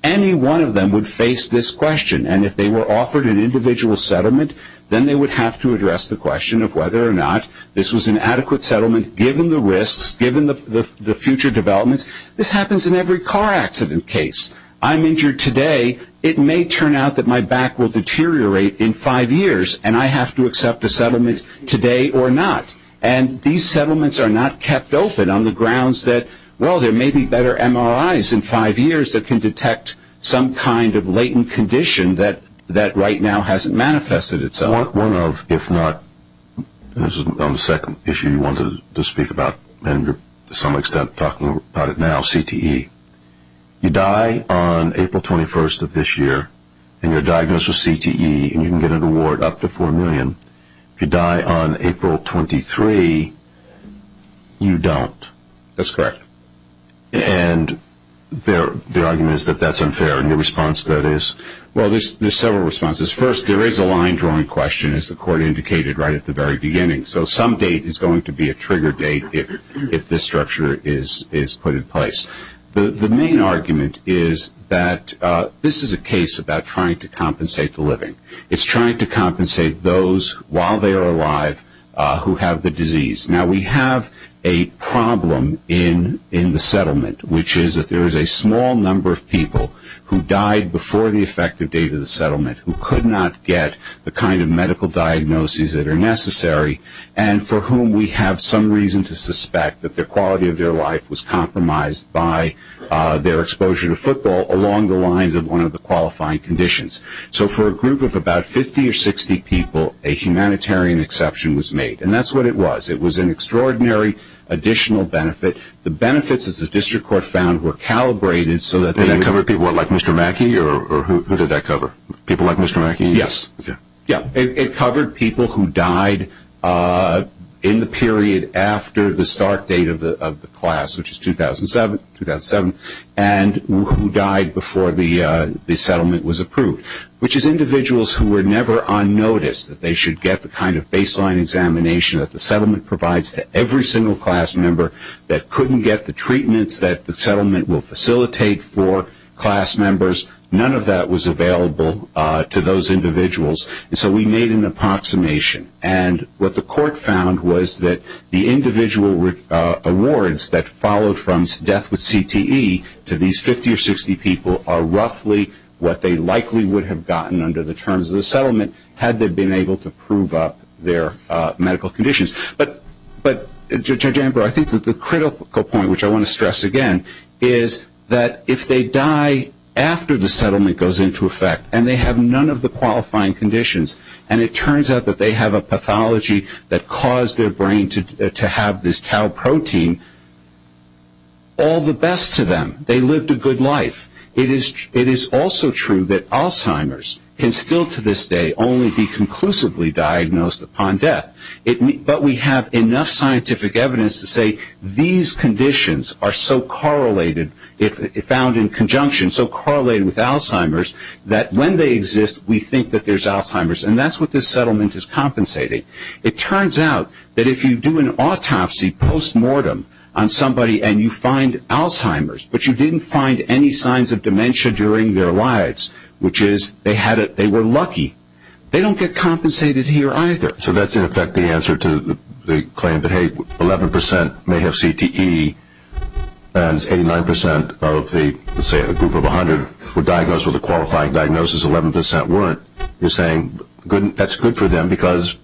any one of them would face this question. And if they were offered an individual settlement, then they would have to address the question of whether or not this was an adequate settlement, given the risks, given the future developments. This happens in every car accident case. I'm injured today. It may turn out that my back will deteriorate in five years, and I have to accept a settlement today or not. And these settlements are not kept open on the grounds that, well, there may be better MRIs in five years that can detect some kind of latent condition that right now hasn't manifested itself. One of, if not, this is on the second issue you wanted to speak about, and to some extent talking about it now, CTE. You die on April 21st of this year, and you're diagnosed with CTE, and you can get an award up to $4 million. If you die on April 23, you don't. That's correct. And their argument is that that's unfair. And your response to that is? Well, there's several responses. First, there is a line drawing question, as the court indicated right at the very beginning. So some date is going to be a trigger date if this structure is put in place. The main argument is that this is a case about trying to compensate the living. It's trying to compensate those while they are alive who have the disease. Now, we have a problem in the settlement, which is that there is a small number of people who died before the effective date of the settlement, who could not get the kind of medical diagnoses that are necessary, and for whom we have some reason to suspect that the quality of their life was compromised by their exposure to football along the lines of one of the qualifying conditions. So for a group of about 50 or 60 people, a humanitarian exception was made. And that's what it was. It was an extraordinary additional benefit. The benefits, as the district court found, were calibrated so that they didn't. It covered people like Mr. Mackey, or who did that cover? People like Mr. Mackey? Yes. It covered people who died in the period after the start date of the class, which is 2007, and who died before the settlement was approved, which is individuals who were never on notice that they should get the kind of baseline examination that the settlement provides to every single class member that couldn't get the treatments that the settlement will facilitate for class members. None of that was available to those individuals. And so we made an approximation. And what the court found was that the individual awards that followed from death with CTE to these 50 or 60 people are roughly what they likely would have gotten under the terms of the settlement had they been able to prove up their medical conditions. But, Judge Amber, I think that the critical point, which I want to stress again, is that if they die after the settlement goes into effect and they have none of the qualifying conditions, and it turns out that they have a pathology that caused their brain to have this tau protein, all the best to them. They lived a good life. It is also true that Alzheimer's can still to this day only be conclusively diagnosed upon death. But we have enough scientific evidence to say these conditions are so correlated, found in conjunction, so correlated with Alzheimer's that when they exist, we think that there's Alzheimer's. And that's what this settlement is compensating. It turns out that if you do an autopsy post-mortem on somebody and you find Alzheimer's, but you didn't find any signs of dementia during their lives, which is they were lucky, they don't get compensated here either. So that's, in effect, the answer to the claim that, hey, 11% may have CTE and 89% of the group of 100 were diagnosed with a qualified diagnosis, 11% weren't. You're saying that's good for them because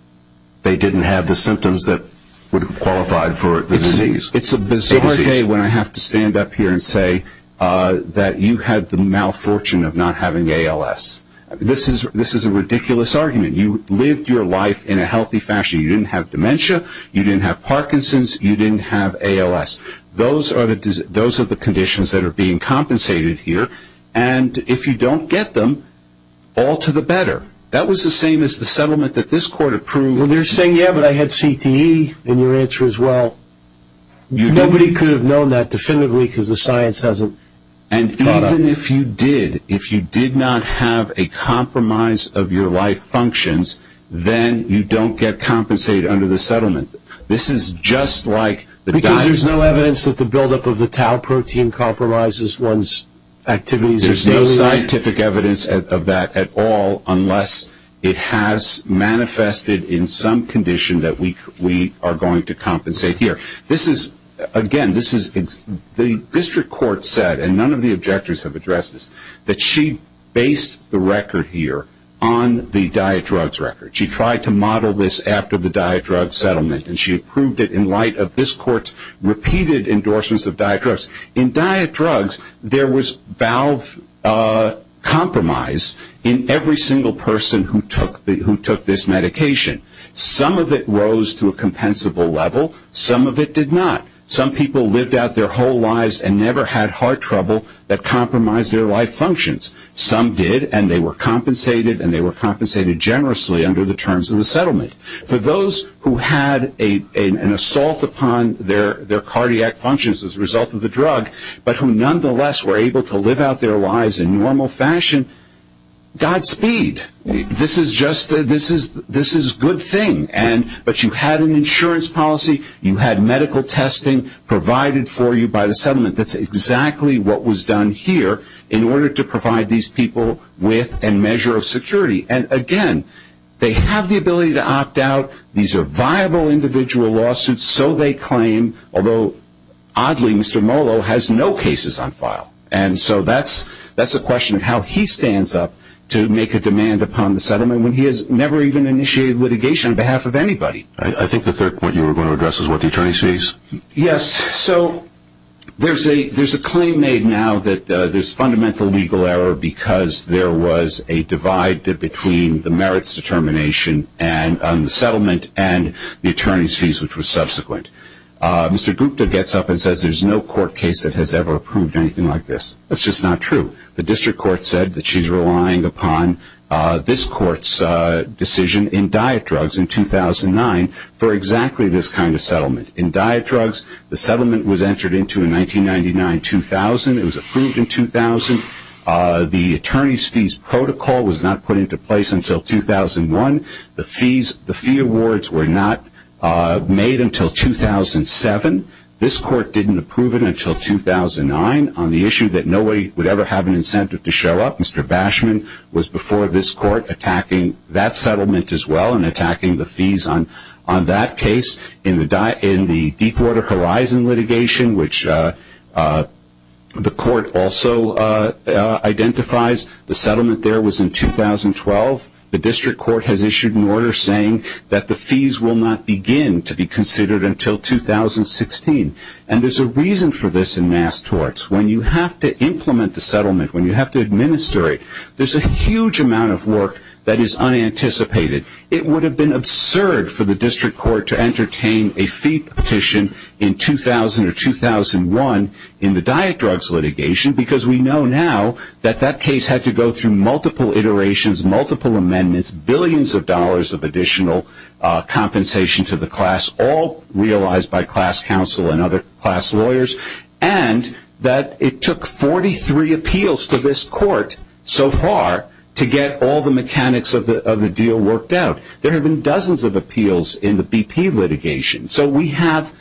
they didn't have the symptoms that would have qualified for the disease. It's a bizarre day when I have to stand up here and say that you had the malfortune of not having ALS. This is a ridiculous argument. You lived your life in a healthy fashion. You didn't have dementia, you didn't have Parkinson's, you didn't have ALS. Those are the conditions that are being compensated here. And if you don't get them, all to the better. That was the same as the settlement that this court approved. Well, they're saying, yeah, but I had CTE in your answer as well. Nobody could have known that definitively because the science hasn't caught up. And even if you did, if you did not have a compromise of your life functions, then you don't get compensated under the settlement. This is just like the diagnosis. Because there's no evidence that the buildup of the tau protein compromises one's activities. There's no scientific evidence of that at all, unless it has manifested in some condition that we are going to compensate here. Again, the district court said, and none of the objectors have addressed this, that she based the record here on the diet drugs record. She tried to model this after the diet drugs settlement, and she approved it in light of this court's repeated endorsements of diet drugs. In diet drugs, there was valve compromise in every single person who took this medication. Some of it rose to a compensable level. Some of it did not. Some people lived out their whole lives and never had heart trouble that compromised their life functions. Some did, and they were compensated, and they were compensated generously under the terms of the settlement. For those who had an assault upon their cardiac functions as a result of the drug, but who nonetheless were able to live out their lives in normal fashion, Godspeed. This is just a good thing, but you had an insurance policy. You had medical testing provided for you by the settlement. That's exactly what was done here in order to provide these people with a measure of security. Again, they have the ability to opt out. These are viable individual lawsuits, so they claim, although, oddly, Mr. Molo has no cases on file. That's a question of how he stands up to make a demand upon the settlement when he has never even initiated litigation on behalf of anybody. I think the third point you were going to address is what the attorney sees. Yes. There's a claim made now that there's fundamental legal error because there was a divide between the merits determination on the settlement and the attorney's fees, which were subsequent. Mr. Gupta gets up and says there's no court case that has ever approved anything like this. That's just not true. The district court said that she's relying upon this court's decision in Diet Drugs in 2009 for exactly this kind of settlement. In Diet Drugs, the settlement was entered into in 1999-2000. It was approved in 2000. The attorney's fees protocol was not put into place until 2001. The fee awards were not made until 2007. This court didn't approve it until 2009 on the issue that nobody would ever have an incentive to show up. Mr. Bashman was before this court attacking that settlement as well and attacking the fees on that case. In the Deepwater Horizon litigation, which the court also identifies, the settlement there was in 2012. The district court has issued an order saying that the fees will not begin to be considered until 2016. There's a reason for this in mass torts. When you have to implement the settlement, when you have to administer it, there's a huge amount of work that is unanticipated. It would have been absurd for the district court to entertain a fee petition in 2000 or 2001 in the Diet Drugs litigation because we know now that that case had to go through multiple iterations, multiple amendments, billions of dollars of additional compensation to the class, all realized by class counsel and other class lawyers, and that it took 43 appeals to this court so far to get all the mechanics of the deal worked out. There have been dozens of appeals in the BP litigation, so we have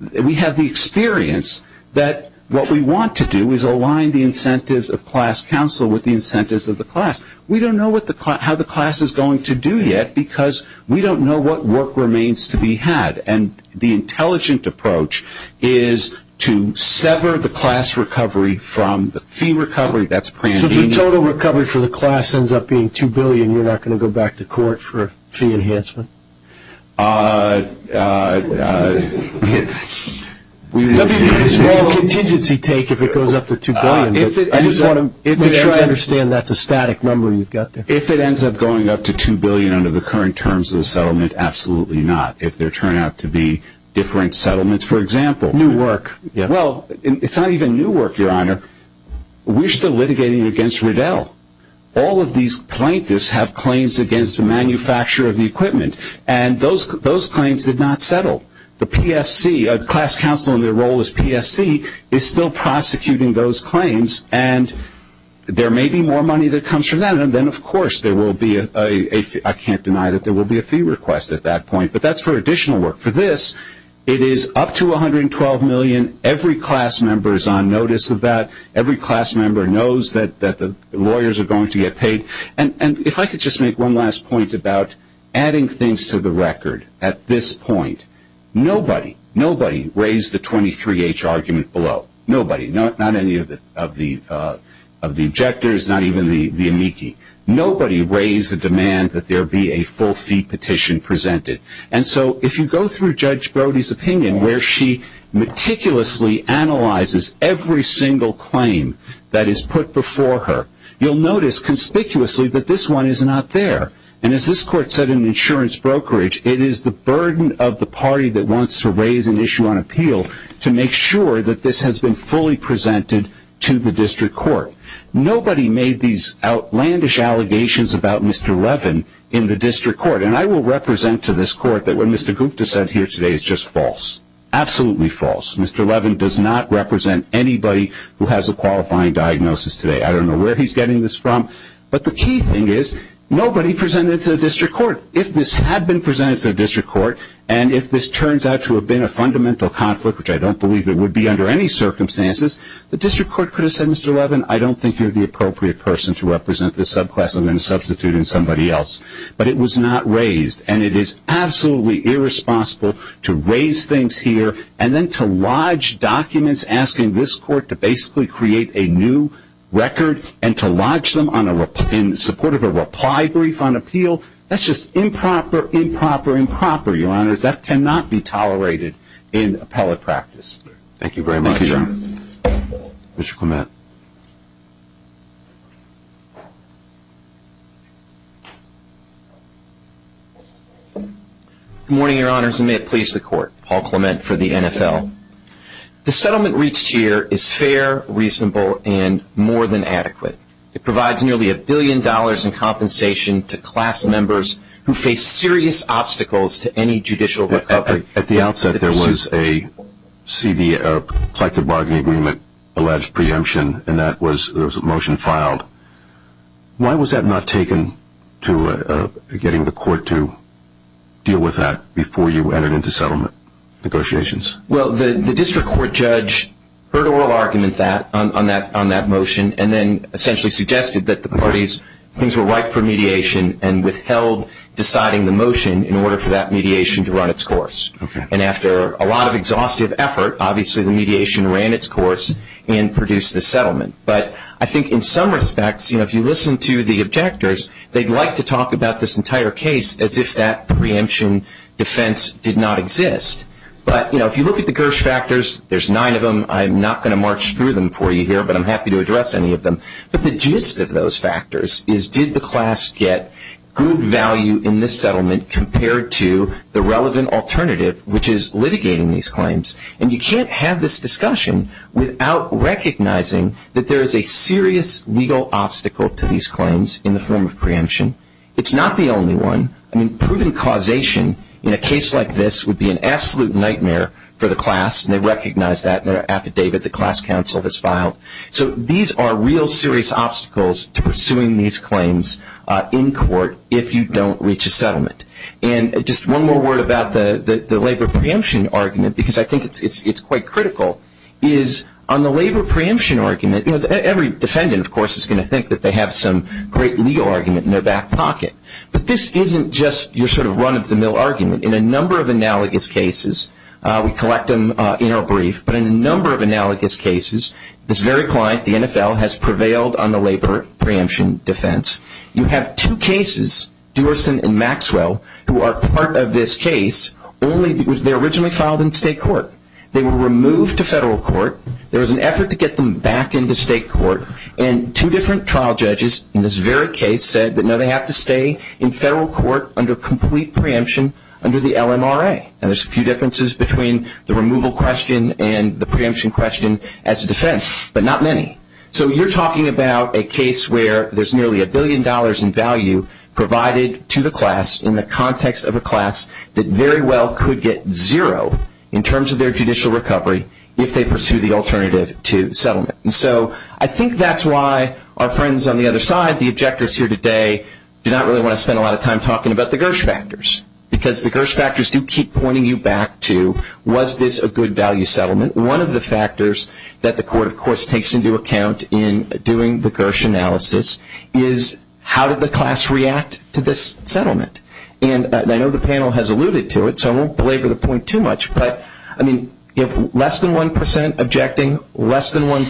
the experience that what we want to do is align the incentives of class counsel with the incentives of the class. We don't know how the class is going to do yet because we don't know what work remains to be had, and the intelligent approach is to sever the class recovery from the fee recovery. So if the total recovery for the class ends up being $2 billion, you're not going to go back to court for a fee enhancement? It would be a small contingency take if it goes up to $2 billion, but I just want to make sure I understand that's a static number we've got there. If it ends up going up to $2 billion under the current terms of the settlement, absolutely not, if there turn out to be different settlements, for example. New work. Well, it's not even new work, Your Honor. We're still litigating against Riddell. All of these plaintiffs have claims against the manufacturer of the equipment, and those claims did not settle. The PSC, class counsel in their role as PSC, is still prosecuting those claims, and there may be more money that comes from that, and then, of course, there will be a fee request at that point, but that's for additional work. For this, it is up to $112 million. Every class member is on notice of that. Every class member knows that the lawyers are going to get paid, and if I could just make one last point about adding things to the record at this point. Nobody, nobody raised the 23H argument below. Nobody, not any of the objectors, not even the amici. Nobody raised the demand that there be a full fee petition presented, and so if you go through Judge Brody's opinion where she meticulously analyzes every single claim that is put before her, you'll notice conspicuously that this one is not there, and as this court said in the insurance brokerage, it is the burden of the party that wants to raise an issue on appeal to make sure that this has been fully presented to the district court. Nobody made these outlandish allegations about Mr. Revin in the district court, and I will represent to this court that what Mr. Gupta said here today is just false, absolutely false. Mr. Revin does not represent anybody who has a qualifying diagnosis today. I don't know where he's getting this from, but the key thing is nobody presented it to the district court. If this had been presented to the district court and if this turns out to have been a fundamental conflict, which I don't believe it would be under any circumstances, the district court could have said, Mr. Revin, I don't think you're the appropriate person to represent this subclass. I'm going to substitute in somebody else, but it was not raised, and it is absolutely irresponsible to raise things here and then to lodge documents asking this court to basically create a new record and to lodge them in support of a reply brief on appeal. That's just improper, improper, improper, Your Honor. That cannot be tolerated in appellate practice. Thank you very much, Your Honor. Mr. Clement. Good morning, Your Honors, and may it please the court. Paul Clement for the NFL. The settlement reached here is fair, reasonable, and more than adequate. It provides nearly a billion dollars in compensation to class members who face serious obstacles to any judicial recovery. At the outset, there was a collective bargaining agreement alleged preemption, and that was a motion filed. Why was that not taken to getting the court to deal with that before you entered into settlement negotiations? Well, the district court judge heard oral arguments on that motion and then essentially suggested that the parties who were ripe for mediation and withheld deciding the motion in order for that mediation to run its course. And after a lot of exhaustive effort, obviously the mediation ran its course and produced the settlement. But I think in some respects, you know, if you listen to the objectors, they'd like to talk about this entire case as if that preemption defense did not exist. But, you know, if you look at the GERSH factors, there's nine of them. I'm not going to march through them for you here, but I'm happy to address any of them. But the gist of those factors is did the class get good value in this settlement compared to the relevant alternative, which is litigating these claims? And you can't have this discussion without recognizing that there is a serious legal obstacle to these claims in the form of preemption. It's not the only one. I mean, proven causation in a case like this would be an absolute nightmare for the class, and they recognize that in their affidavit the class counsel has filed. So these are real serious obstacles to pursuing these claims in court if you don't reach a settlement. And just one more word about the labor preemption argument, because I think it's quite critical, is on the labor preemption argument, you know, every defendant, of course, is going to think that they have some great legal argument in their back pocket. But this isn't just your sort of run-of-the-mill argument. In a number of analogous cases, we collect them in our brief, but in a number of analogous cases, this very client, the NFL, has prevailed on the labor preemption defense. You have two cases, Duerson and Maxwell, who are part of this case, only because they're originally filed in state court. They were removed to federal court. There was an effort to get them back into state court, and two different trial judges in this very case said that, no, they have to stay in federal court under complete preemption under the LMRA. And there's a few differences between the removal question and the preemption question as a defense, but not many. So you're talking about a case where there's nearly a billion dollars in value provided to the class in the context of a class that very well could get zero in terms of their judicial recovery if they pursue the alternative to settlement. And so I think that's why our friends on the other side, the objectors here today, do not really want to spend a lot of time talking about the Gersh factors, because the Gersh factors do keep pointing you back to, was this a good value settlement? And one of the factors that the court, of course, takes into account in doing the Gersh analysis is, how did the class react to this settlement? And I know the panel has alluded to it, so I won't belabor the point too much, but less than 1% objecting, less than 1%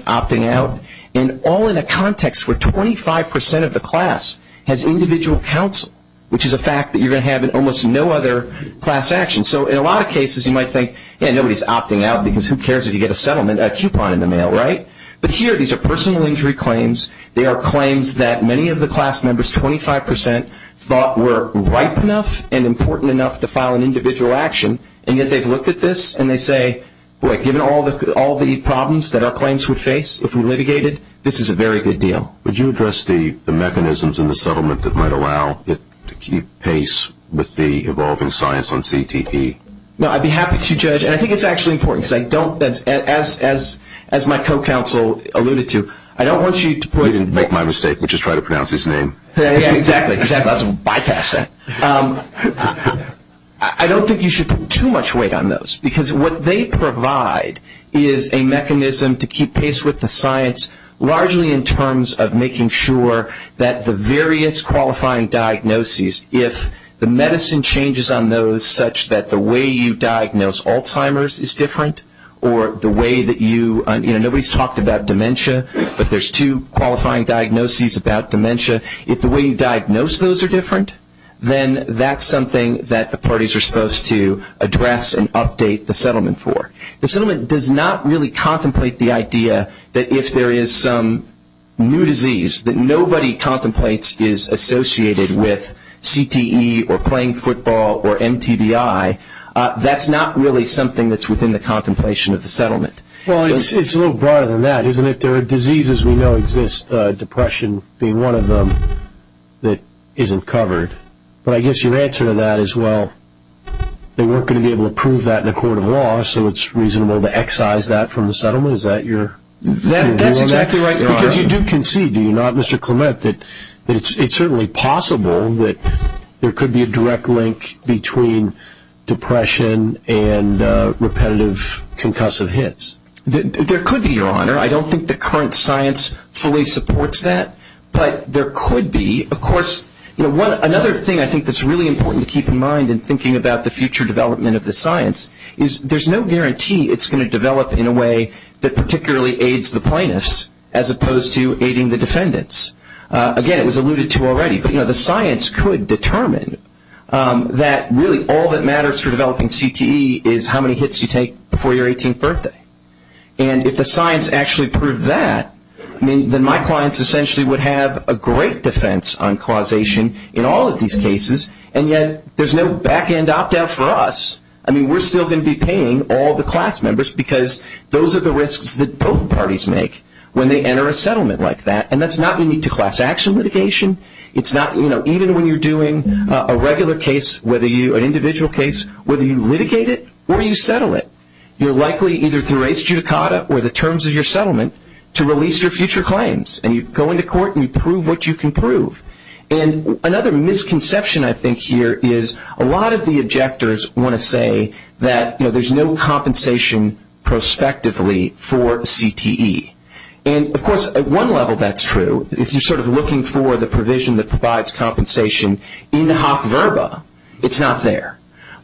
opting out, and all in a context where 25% of the class has individual counsel, which is a fact that you're going to have in almost no other class action. So in a lot of cases you might think, yeah, nobody's opting out, because who cares if you get a settlement, a coupon in the mail, right? But here these are personal injury claims. They are claims that many of the class members, 25%, thought were ripe enough and important enough to file an individual action, and yet they've looked at this and they say, boy, given all the problems that our claims would face if we litigated, this is a very good deal. Would you address the mechanisms in the settlement that might allow it to keep pace with the evolving science on CTP? No, I'd be happy to, Judge, and I think it's actually important, because I don't, as my co-counsel alluded to, I don't want you to put it in. You didn't make my mistake. We just tried to pronounce his name. Yeah, exactly, because I thought I was going to bypass that. I don't think you should put too much weight on those, because what they provide is a mechanism to keep pace with the science, largely in terms of making sure that the various qualifying diagnoses, if the medicine changes on those such that the way you diagnose Alzheimer's is different, or the way that you, you know, nobody's talked about dementia, but there's two qualifying diagnoses about dementia. If the way you diagnose those are different, then that's something that the parties are supposed to address and update the settlement for. The settlement does not really contemplate the idea that if there is some new disease that nobody contemplates is associated with CTE or playing football or MTBI, that's not really something that's within the contemplation of the settlement. Well, it's a little broader than that, isn't it? There are diseases we know exist, depression being one of them that isn't covered. But I guess your answer to that is, well, they weren't going to be able to prove that in a court of law, so it's reasonable to excise that from the settlement. Is that your ruling? That's exactly right, Your Honor. Because you do concede, do you not, Mr. Clement, that it's certainly possible that there could be a direct link between depression and repetitive concussive hits. There could be, Your Honor. I don't think the current science fully supports that, but there could be. Of course, another thing I think that's really important to keep in mind in thinking about the future development of the science is there's no guarantee it's going to develop in a way that particularly aids the plaintiffs as opposed to aiding the defendants. Again, it was alluded to already, but the science could determine that really all that matters for developing CTE is how many hits you take before your 18th birthday. And if the science actually proved that, then my clients essentially would have a great defense on causation in all of these cases, and yet there's no back-end opt-out for us. I mean, we're still going to be paying all the class members because those are the risks that both parties make when they enter a settlement like that, and that's not unique to class action litigation. It's not, you know, even when you're doing a regular case, an individual case, whether you litigate it or you settle it, you're likely either through res judicata or the terms of your settlement to release your future claims, and you go into court and you prove what you can prove. And another misconception I think here is a lot of the objectors want to say that, you know, there's no compensation prospectively for CTE. And, of course, at one level that's true. If you're sort of looking for the provision that provides compensation in hoc verba, it's not there.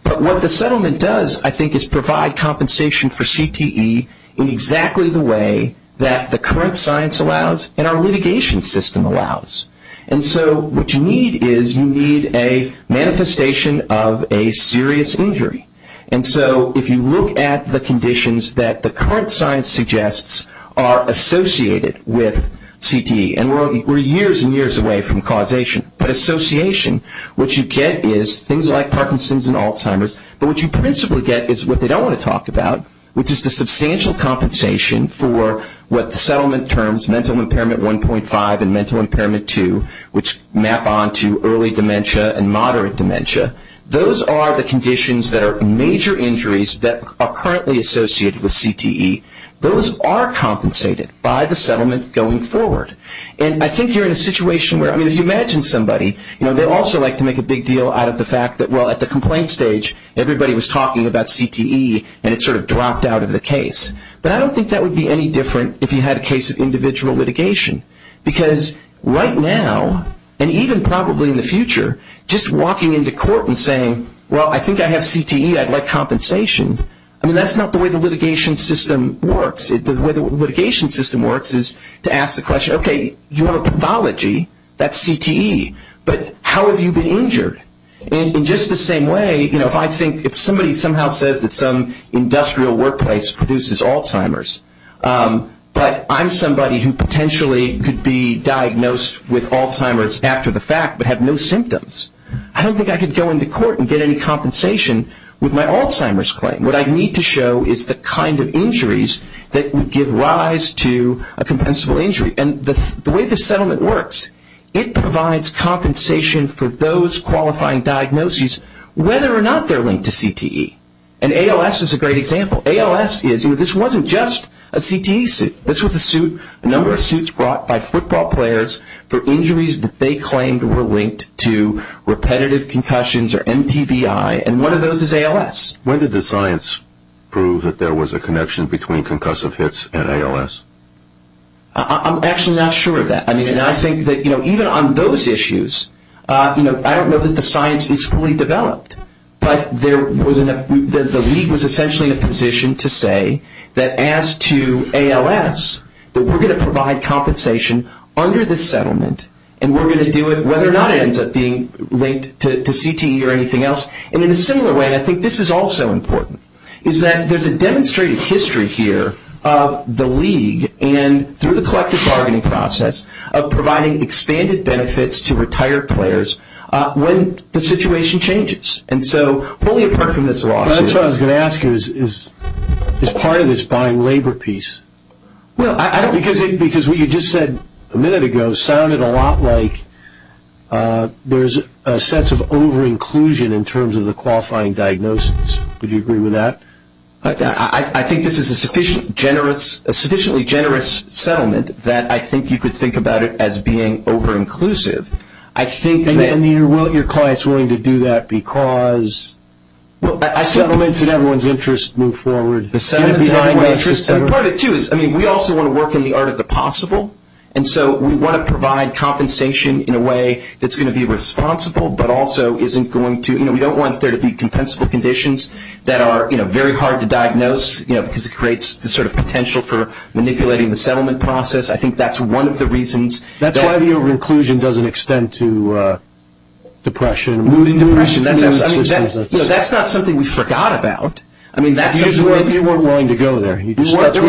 But what the settlement does, I think, is provide compensation for CTE in exactly the way that the current science allows and our litigation system allows. And so what you need is you need a manifestation of a serious injury. And so if you look at the conditions that the current science suggests are associated with CTE, and we're years and years away from causation, but association, what you get is things like Parkinson's and Alzheimer's, but what you principally get is what they don't want to talk about, which is the substantial compensation for what the settlement terms, mental impairment 1.5 and mental impairment 2, which map onto early dementia and moderate dementia. Those are the conditions that are major injuries that are currently associated with CTE. Those are compensated by the settlement going forward. And I think you're in a situation where, I mean, if you imagine somebody, they also like to make a big deal out of the fact that, well, at the complaint stage, everybody was talking about CTE and it sort of dropped out of the case. But I don't think that would be any different if you had a case of individual litigation. Because right now, and even probably in the future, just walking into court and saying, well, I think I have CTE, I'd like compensation, I mean, that's not the way the litigation system works. The way the litigation system works is to ask the question, okay, you want a pathology, that's CTE, but how have you been injured? And in just the same way, you know, if I think if somebody somehow says that some industrial workplace produces Alzheimer's, but I'm somebody who potentially could be diagnosed with Alzheimer's after the fact but had no symptoms, I don't think I could go into court and get any compensation with my Alzheimer's claim. What I need to show is the kind of injuries that would give rise to a compensable injury. And the way the settlement works, it provides compensation for those qualifying diagnoses, whether or not they're linked to CTE. And ALS is a great example. ALS is, you know, this wasn't just a CTE suit. This was a suit, a number of suits brought by football players for injuries that they claimed were linked to repetitive concussions or MPBI, and one of those is ALS. When did the science prove that there was a connection between concussive hits and ALS? I'm actually not sure of that. I mean, and I think that, you know, even on those issues, you know, I don't know that the science is fully developed, but the league was essentially in a position to say that as to ALS, that we're going to provide compensation under the settlement, and we're going to do it whether or not it ends up being linked to CTE or anything else. And in a similar way, I think this is also important, is that there's a demonstrated history here of the league, and through the collective bargaining process of providing expanded benefits to retired players, when the situation changes. And so, fully apart from this lawsuit. That's what I was going to ask you, is part of this buying labor piece? Well, because what you just said a minute ago sounded a lot like there's a sense of over-inclusion in terms of the qualifying diagnosis. Would you agree with that? I think this is a sufficiently generous settlement that I think you could think about it as being over-inclusive. I mean, your client is willing to do that because the settlement is in everyone's interest to move forward. Part of it, too, is we also want to work in the art of the possible, and so we want to provide compensation in a way that's going to be responsible but also isn't going to, you know, we don't want there to be compensable conditions that are, you know, very hard to diagnose, you know, because it creates the sort of potential for manipulating the settlement process. I think that's one of the reasons. That's why the over-inclusion doesn't extend to depression. That's not something we forgot about. You weren't willing to go there. We weren't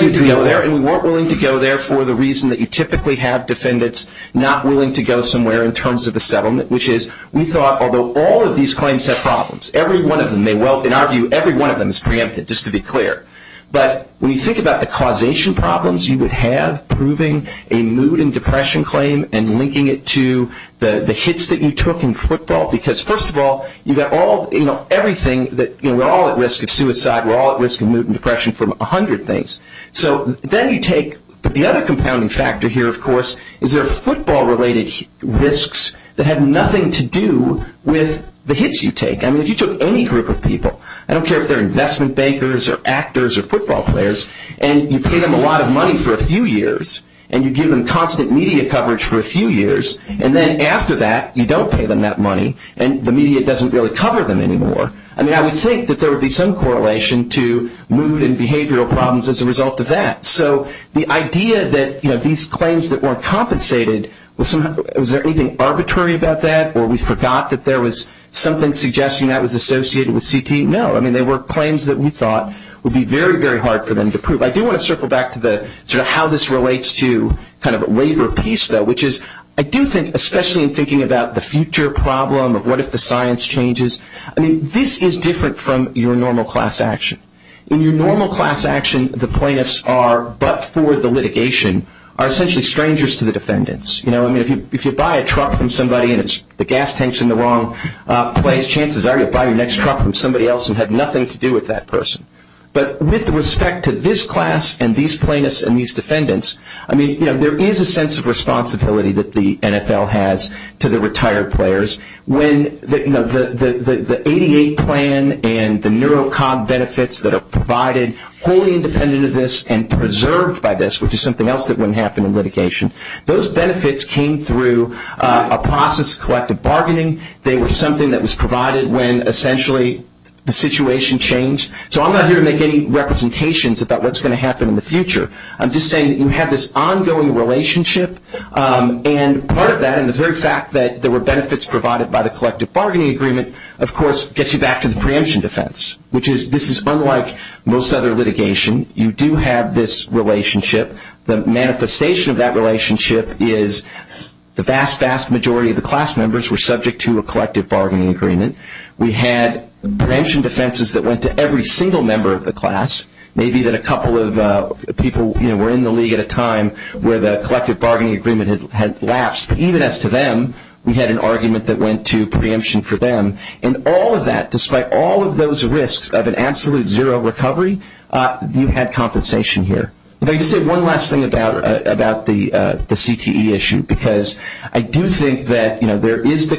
willing to go there for the reason that you typically have defendants not willing to go somewhere in terms of a settlement, which is we thought, although all of these claims have problems, every one of them may well, in our view, every one of them is preempted, just to be clear. But when you think about the causation problems you would have proving a mood and depression claim and linking it to the hits that you took in football, because, first of all, you got all, you know, everything that, you know, we're all at risk of suicide. We're all at risk of mood and depression from a hundred things. So then you take the other compounding factor here, of course, is there are football-related risks that have nothing to do with the hits you take. I mean, if you took any group of people, I don't care if they're investment bankers or actors or football players, and you pay them a lot of money for a few years and you give them constant media coverage for a few years, and then after that you don't pay them that money and the media doesn't really cover them anymore. I mean, I would think that there would be some correlation to mood and behavioral problems as a result of that. So the idea that, you know, these claims that weren't compensated, was there anything arbitrary about that, or we forgot that there was something suggesting that was associated with CT? No. I mean, they were claims that we thought would be very, very hard for them to prove. I do want to circle back to how this relates to kind of a labor piece, though, which is I do think, especially in thinking about the future problem of what if the science changes, I mean, this is different from your normal class action. In your normal class action, the plaintiffs are, but for the litigation, are essentially strangers to the defendants. You know, I mean, if you buy a truck from somebody and the gas tank's in the wrong place, chances are you'll buy your next truck from somebody else and have nothing to do with that person. But with respect to this class and these plaintiffs and these defendants, I mean, you know, there is a sense of responsibility that the NFL has to the retired players. When the 88 plan and the NeuroCom benefits that are provided, wholly independent of this and preserved by this, which is something else that wouldn't happen in litigation, those benefits came through a process of collective bargaining. They were something that was provided when, essentially, the situation changed. So I'm not here to make any representations about what's going to happen in the future. I'm just saying that you have this ongoing relationship, and part of that, and the very fact that there were benefits provided by the collective bargaining agreement, of course, gets you back to the preemption defense, which is this is unlike most other litigation. You do have this relationship. The manifestation of that relationship is the vast, vast majority of the class members were subject to a collective bargaining agreement. We had preemption defenses that went to every single member of the class. Maybe that a couple of people were in the league at a time where the collective bargaining agreement had lapsed. But even as to them, we had an argument that went to preemption for them. And all of that, despite all of those risks of an absolute zero recovery, you had compensation here. I'll just say one last thing about the CTE issue because I do think that, you know, they raised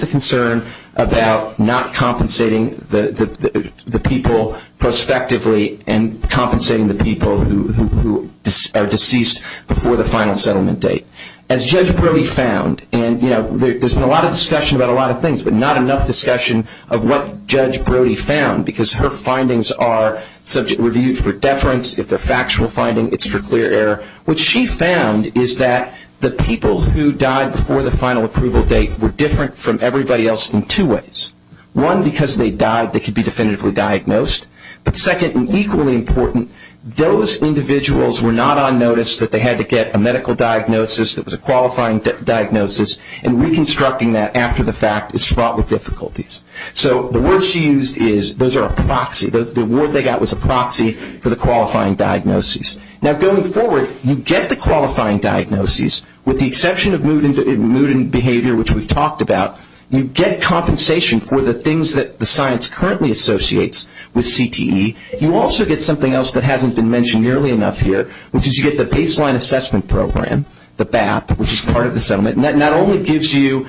the concern about not compensating the people prospectively and compensating the people who are deceased before the final settlement date. As Judge Brody found, and, you know, there's been a lot of discussion about a lot of things, but not enough discussion of what Judge Brody found because her findings are subject review for deference. If they're factual findings, it's for clear error. What she found is that the people who died before the final approval date were different from everybody else in two ways. One, because they died, they could be definitively diagnosed. But second, and equally important, those individuals were not on notice that they had to get a medical diagnosis that was a qualifying diagnosis and reconstructing that after the fact is fraught with difficulties. So the word she used is those are a proxy. The word they got was a proxy for the qualifying diagnosis. Now, going forward, you get the qualifying diagnosis with the exception of mood and behavior, which we've talked about. You get compensation for the things that the science currently associates with CTE. You also get something else that hasn't been mentioned nearly enough here, which is you get the baseline assessment program, the BAP, which is part of the settlement. And that not only gives you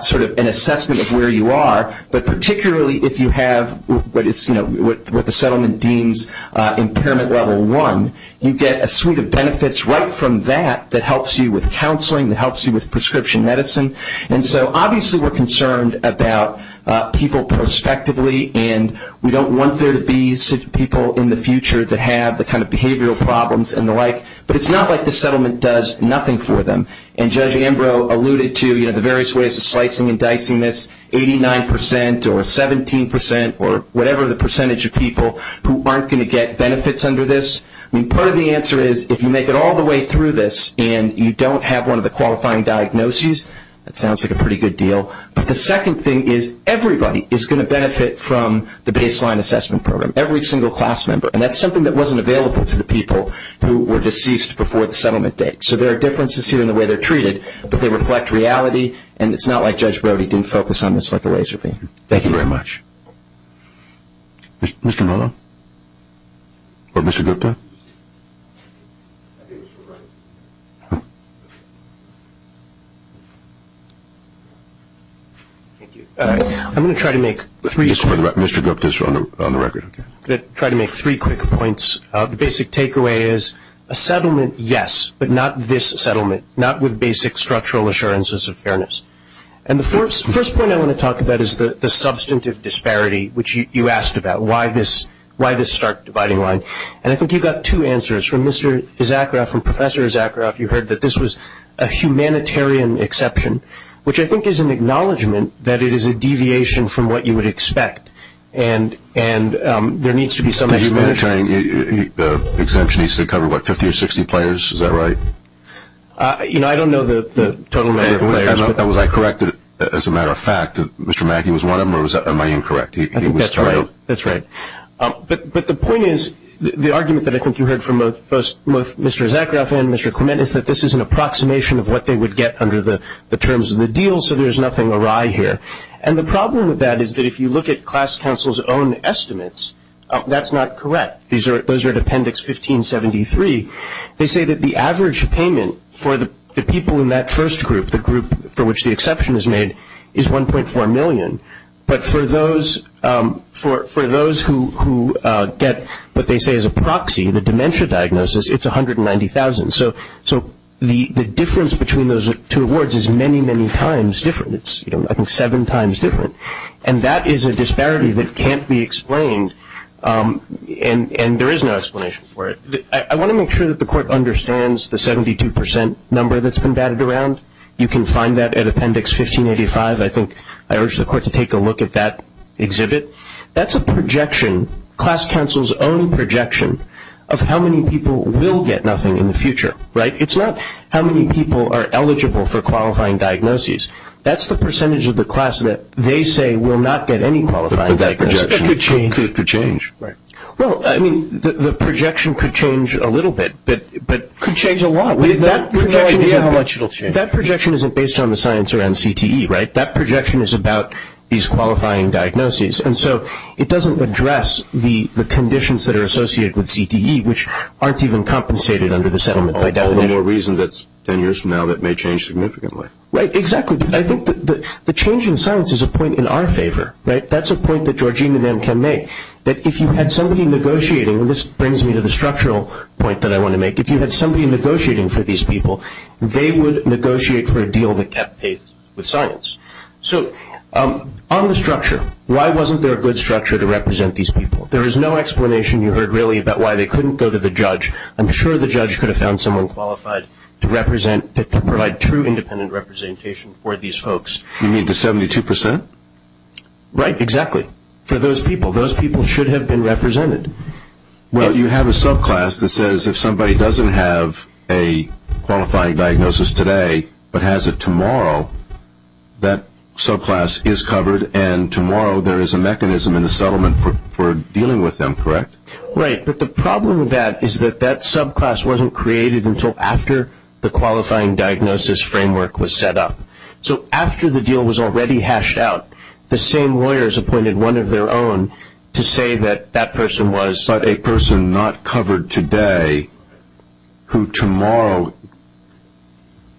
sort of an assessment of where you are, but particularly if you have what the settlement deems impairment level one, you get a suite of benefits right from that that helps you with counseling, that helps you with prescription medicine. And so obviously we're concerned about people prospectively, and we don't want there to be people in the future that have the kind of behavioral problems and the like. But it's not like the settlement does nothing for them. And Judge Ambrose alluded to, you know, the various ways of slicing and dicing this, 89 percent or 17 percent or whatever the percentage of people who aren't going to get benefits under this. I mean, part of the answer is if you make it all the way through this and you don't have one of the qualifying diagnoses, that sounds like a pretty good deal. But the second thing is everybody is going to benefit from the baseline assessment program, every single class member. And that's something that wasn't available to the people who were deceased before the settlement date. So there are differences here in the way they're treated, but they reflect reality, and it's not like Judge Brody didn't focus on this like a laser beam. Thank you very much. Mr. Miller? Or Mr. Gupta? I'm going to try to make three quick points. Mr. Gupta is on the record. I'm going to try to make three quick points. The basic takeaway is a settlement, yes, but not this settlement, not with basic structural assurances of fairness. And the first point I want to talk about is the substantive disparity, which you asked about, why this stark dividing line. And I think you've got two answers. From Mr. Zakharoff and Professor Zakharoff, you heard that this was a humanitarian exception, which I think is an acknowledgment that it is a deviation from what you would expect, and there needs to be some explanation. The exemption he said covered, what, 50 or 60 players? Is that right? You know, I don't know the total number of players. Was I correct as a matter of fact that Mr. Mackey was one of them, or am I incorrect? That's right. But the point is, the argument that I think you heard from both Mr. Zakharoff and Mr. Clement is that this is an approximation of what they would get under the terms of the deal, so there's nothing awry here. And the problem with that is that if you look at class council's own estimates, that's not correct. Those are at appendix 1573. They say that the average payment for the people in that first group, the group for which the exception is made, is $1.4 million. But for those who get what they say is a proxy, the dementia diagnosis, it's $190,000. So the difference between those two awards is many, many times different. It's, you know, I think seven times different. And that is a disparity that can't be explained, and there is no explanation for it. I want to make sure that the court understands the 72% number that's been batted around. You can find that at appendix 1585. I think I urge the court to take a look at that exhibit. That's a projection, class council's own projection, of how many people will get nothing in the future, right? It's not how many people are eligible for qualifying diagnoses. That's the percentage of the class that they say will not get any qualifying diagnosis. But that projection could change. Right. Well, I mean, the projection could change a little bit, but could change a lot. We have no idea how much it will change. That projection isn't based on the science around CTE, right? That projection is about these qualifying diagnoses. And so it doesn't address the conditions that are associated with CTE, which aren't even compensated under the settlement. There's no reason that's ten years from now that may change significantly. Right, exactly. I think the change in science is a point in our favor, right? That's a point that Georgina then can make, that if you had somebody negotiating, and this brings me to the structural point that I want to make, if you had somebody negotiating for these people, they would negotiate for a deal that kept pace with science. So on the structure, why wasn't there a good structure to represent these people? There is no explanation you heard, really, about why they couldn't go to the judge. I'm sure the judge could have found someone qualified to represent, to provide true independent representation for these folks. You mean the 72%? Right, exactly, for those people. Those people should have been represented. Well, you have a subclass that says if somebody doesn't have a qualifying diagnosis today, but has it tomorrow, that subclass is covered, and tomorrow there is a mechanism in the settlement for dealing with them, correct? Right, but the problem with that is that that subclass wasn't created until after the qualifying diagnosis framework was set up. So after the deal was already hashed out, the same lawyers appointed one of their own to say that that person was But a person not covered today, who tomorrow,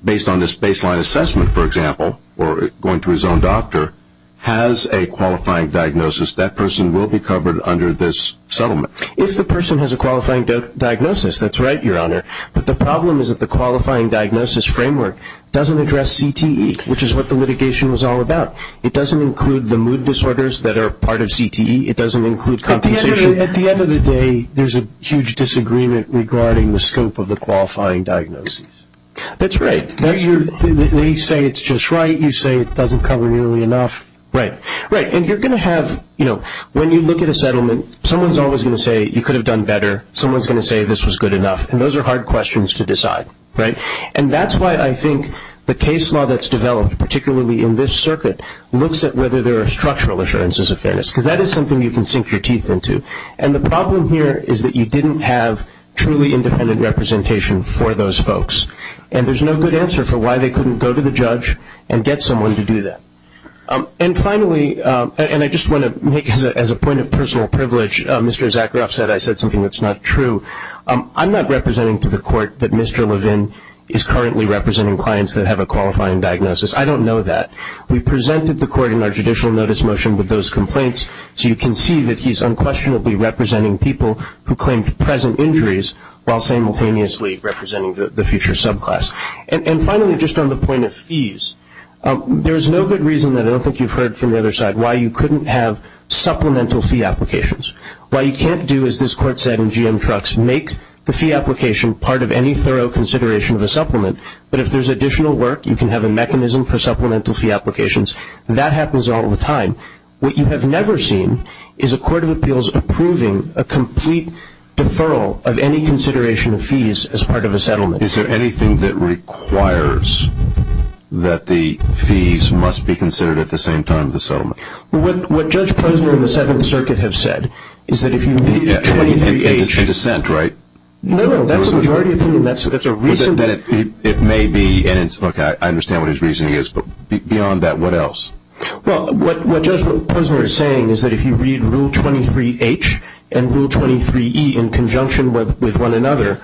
based on this baseline assessment, for example, or going to his own doctor, has a qualifying diagnosis, that person will be covered under this settlement. If the person has a qualifying diagnosis, that's right, Your Honor, but the problem is that the qualifying diagnosis framework doesn't address CTE, which is what the litigation was all about. It doesn't include the mood disorders that are part of CTE. It doesn't include compensation. At the end of the day, there's a huge disagreement regarding the scope of the qualifying diagnosis. That's right. They say it's just right. You say it doesn't cover nearly enough. Right, right, and you're going to have, you know, when you look at a settlement, someone's always going to say you could have done better. Someone's going to say this was good enough, and those are hard questions to decide, right? And that's why I think the case law that's developed, particularly in this circuit, looks at whether there are structural assurances of fairness, because that is something you can sink your teeth into. And the problem here is that you didn't have truly independent representation for those folks, and there's no good answer for why they couldn't go to the judge and get someone to do that. And finally, and I just want to make, as a point of personal privilege, Mr. Zakharoff said, I said something that's not true. I'm not representing to the court that Mr. Levin is currently representing clients that have a qualifying diagnosis. I don't know that. We presented the court in our judicial notice motion with those complaints, so you can see that he's unquestionably representing people who claim present injuries while simultaneously representing the future subclass. And finally, just on the point of fees, there's no good reason that I don't think you've heard from the other side why you couldn't have supplemental fee applications. What you can't do, as this court said in GM Trucks, make the fee application part of any thorough consideration of a supplement. But if there's additional work, you can have a mechanism for supplemental fee applications, and that happens all the time. What you have never seen is a court of appeals approving a complete deferral of any consideration of fees as part of a settlement. Is there anything that requires that the fees must be considered at the same time as the settlement? What Judge Posner and the Senate and the Circuit have said is that if you meet a 2038... And it's a dissent, right? No, that's what you already approved, and that's a reason... It may be, and look, I understand what his reasoning is, but beyond that, what else? Well, what Judge Posner is saying is that if you read Rule 23H and Rule 23E in conjunction with one another,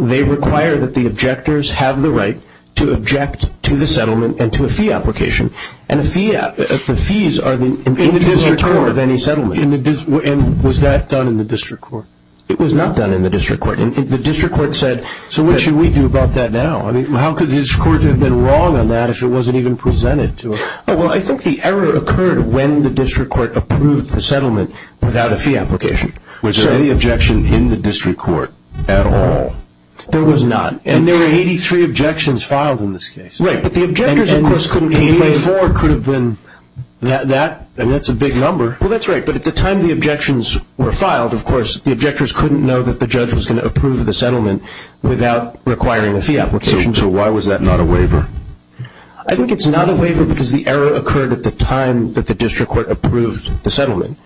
they require that the objectors have the right to object to the settlement and to a fee application. And the fees are the... In the district court. ...in the term of any settlement. And was that done in the district court? It was not done in the district court. The district court said... So what should we do about that now? I mean, how could his court have been wrong on that if it wasn't even presented to us? Well, I think the error occurred when the district court approved the settlement without a fee application. Was there any objection in the district court at all? There was none. And there were 83 objections filed in this case. Right, but the objectors, of course, couldn't... 84 could have been that, and that's a big number. Well, that's right, but at the time the objections were filed, of course, the objectors couldn't know that the judge was going to approve the settlement without requiring a fee application. So why was that not a waiver? I think it's not a waiver because the error occurred at the time that the district court approved the settlement.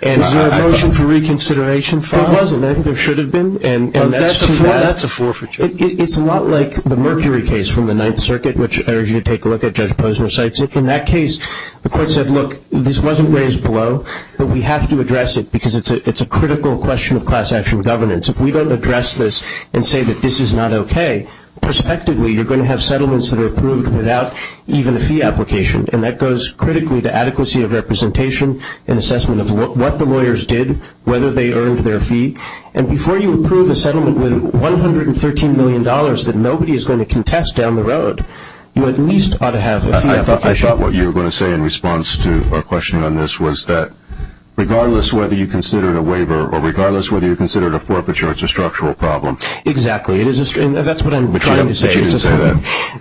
Was there a motion for reconsideration filed? There was a motion. There should have been. That's a forfeiture. It's not like the Mercury case from the Ninth Circuit, which I urge you to take a look at, Judge Posner cites it. In that case, the court said, look, this wasn't raised below, but we have to address it because it's a critical question of class-action governance. If we don't address this and say that this is not okay, prospectively you're going to have settlements that are approved without even a fee application, and that goes critically to adequacy of representation and assessment of what the lawyers did, whether they earned their fee. And before you approve a settlement with $113 million that nobody is going to contest down the road, you at least ought to have a fee application. What you were going to say in response to our question on this was that regardless whether you consider it a waiver or regardless whether you consider it a forfeiture, it's a structural problem. Exactly. That's what I'm trying to say.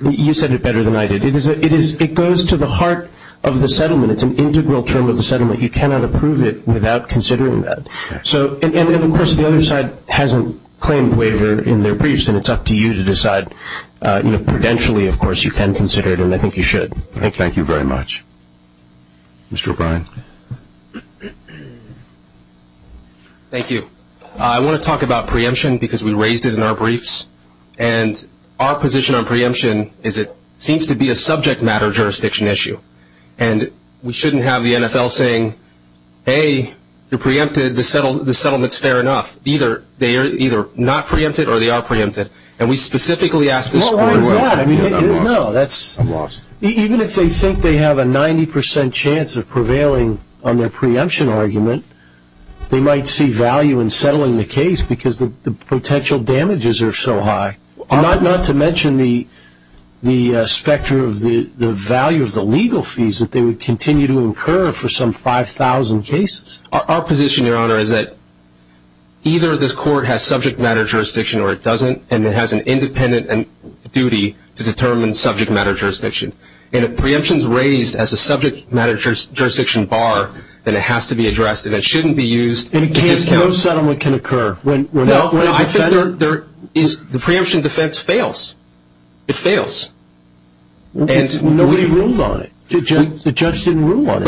You said it better than I did. It goes to the heart of the settlement. It's an integral term of the settlement. You cannot approve it without considering that. And, of course, the other side hasn't claimed waiver in their briefs, and it's up to you to decide. Prudentially, of course, you can consider it, and I think you should. Thank you very much. Mr. O'Brien. Thank you. I want to talk about preemption because we raised it in our briefs, and our position on preemption is it seems to be a subject matter jurisdiction issue, and we shouldn't have the NFL saying, hey, you're preempted, the settlement's fair enough. They're either not preempted or they are preempted, and we specifically ask this question. No, that's not. Even if they think they have a 90% chance of prevailing on their preemption argument, they might see value in settling the case because the potential damages are so high, not to mention the specter of the value of the legal fees that they would continue to incur for some 5,000 cases. Our position, Your Honor, is that either this court has subject matter jurisdiction or it doesn't, and it has an independent duty to determine subject matter jurisdiction. And if preemption's raised as a subject matter jurisdiction bar, then it has to be addressed, and it shouldn't be used. And no settlement can occur. No, I think the preemption defense fails. It fails. Nobody ruled on it. The judge didn't rule on it.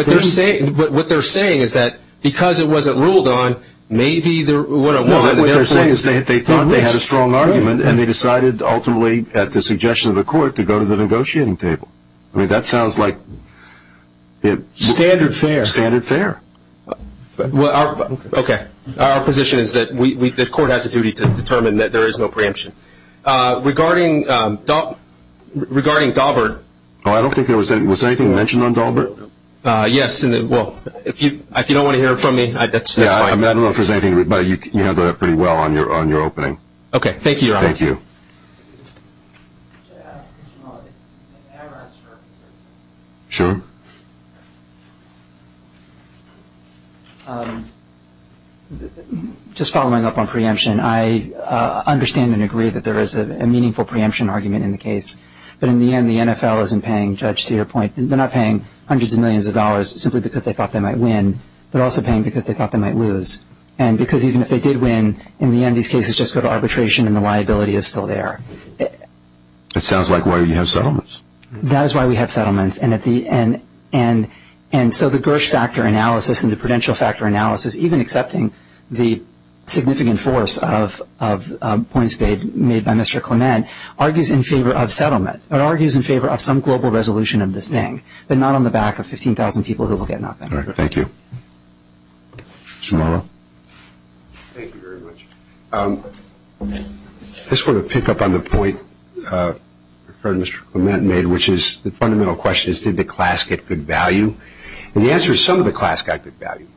But what they're saying is that because it wasn't ruled on, maybe they're 101. No, what they're saying is they thought they had a strong argument, and they decided ultimately at the suggestion of the court to go to the negotiating table. I mean, that sounds like standard fair. Standard fair. Okay. Our position is that the court has a duty to determine that there is no preemption. Regarding Dalbert. Was anything mentioned on Dalbert? Yes. Well, if you don't want to hear it from me, that's fine. I don't know if there's anything, but you handled that pretty well on your opening. Okay. Thank you, Your Honor. Thank you. Sure. Just following up on preemption, I understand and agree that there is a meaningful preemption argument in the case. But in the end, the NFL isn't paying, Judge, to your point. They're not paying hundreds of millions of dollars simply because they thought they might win. They're also paying because they thought they might lose. And because even if they did win, in the end, these cases just go to arbitration, and the liability is still there. That sounds like why we have settlements. That is why we have settlements. And so the Bush factor analysis and the prudential factor analysis, even accepting the significant force of points made by Mr. Clement, argues in favor of settlement. It argues in favor of some global resolution of this thing, but not on the back of 15,000 people who will get nothing. All right. Thank you. Mr. Morrow. Thank you very much. Just going to pick up on the point Mr. Clement made, which is the fundamental question is, did the class get good value? And the answer is some of the class got good value.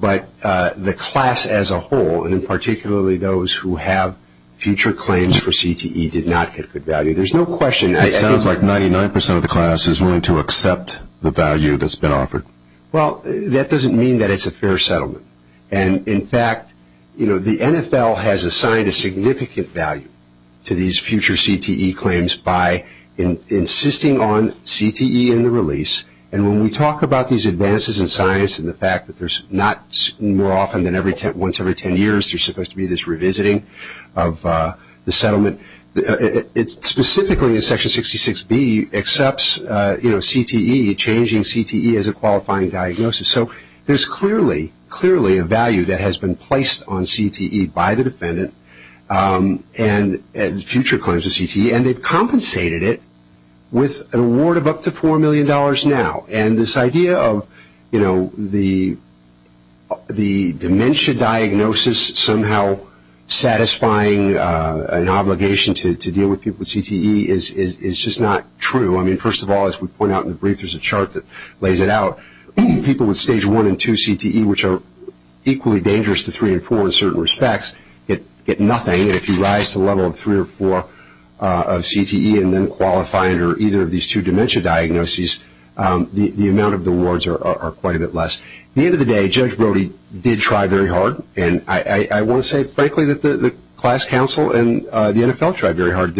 But the class as a whole, and particularly those who have future claims for CTE, did not get good value. There's no question. It sounds like 99% of the class is willing to accept the value that's been offered. Well, that doesn't mean that it's a fair settlement. And, in fact, the NFL has assigned a significant value to these future CTE claims by insisting on CTE in the release. And when we talk about these advances in science and the fact that there's not more often than once every 10 years, there's supposed to be this revisiting of the settlement, it's specifically in Section 66B accepts CTE, changing CTE as a qualifying diagnosis. So there's clearly, clearly a value that has been placed on CTE by the defendant and future claims of CTE, and they've compensated it with an award of up to $4 million now. And this idea of the dementia diagnosis somehow satisfying an obligation to deal with people with CTE is just not true. I mean, first of all, as we point out in the brief, there's a chart that lays it out. People with Stage 1 and 2 CTE, which are equally dangerous to 3 and 4 in certain respects, get nothing. And if you rise to a level of 3 or 4 of CTE and then qualify under either of these two dementia diagnoses, the amount of the awards are quite a bit less. At the end of the day, Judge Brody did try very hard. And I will say, frankly, that the class counsel and the NFL tried very hard.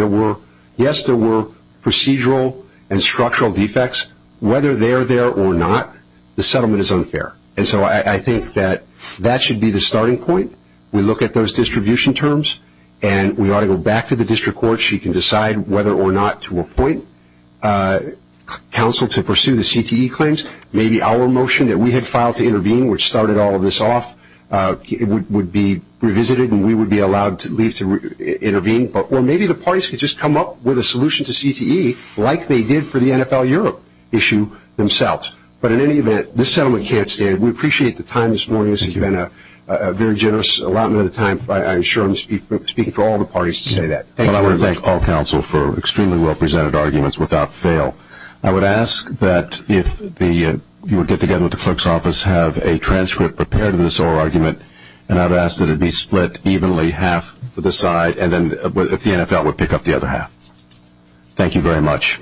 Yes, there were procedural and structural defects. Whether they're there or not, the settlement is unfair. And so I think that that should be the starting point. We look at those distribution terms, and we ought to go back to the district court. She can decide whether or not to appoint counsel to pursue the CTE claims. Maybe our motion that we had filed to intervene, which started all of this off, would be revisited, and we would be allowed at least to intervene. Or maybe the parties could just come up with a solution to CTE like they did for the NFL Europe issue themselves. But in any event, this settlement can't stay. We appreciate the time this morning. This has been a very generous allotment of time. I'm sure I'm speaking for all the parties to say that. I want to thank all counsel for extremely well-presented arguments without fail. I would ask that if you would get together with the clerk's office, have a transcript prepared of this oral argument, and I would ask that it be split evenly half to the side, and then if the NFL would pick up the other half. Thank you very much.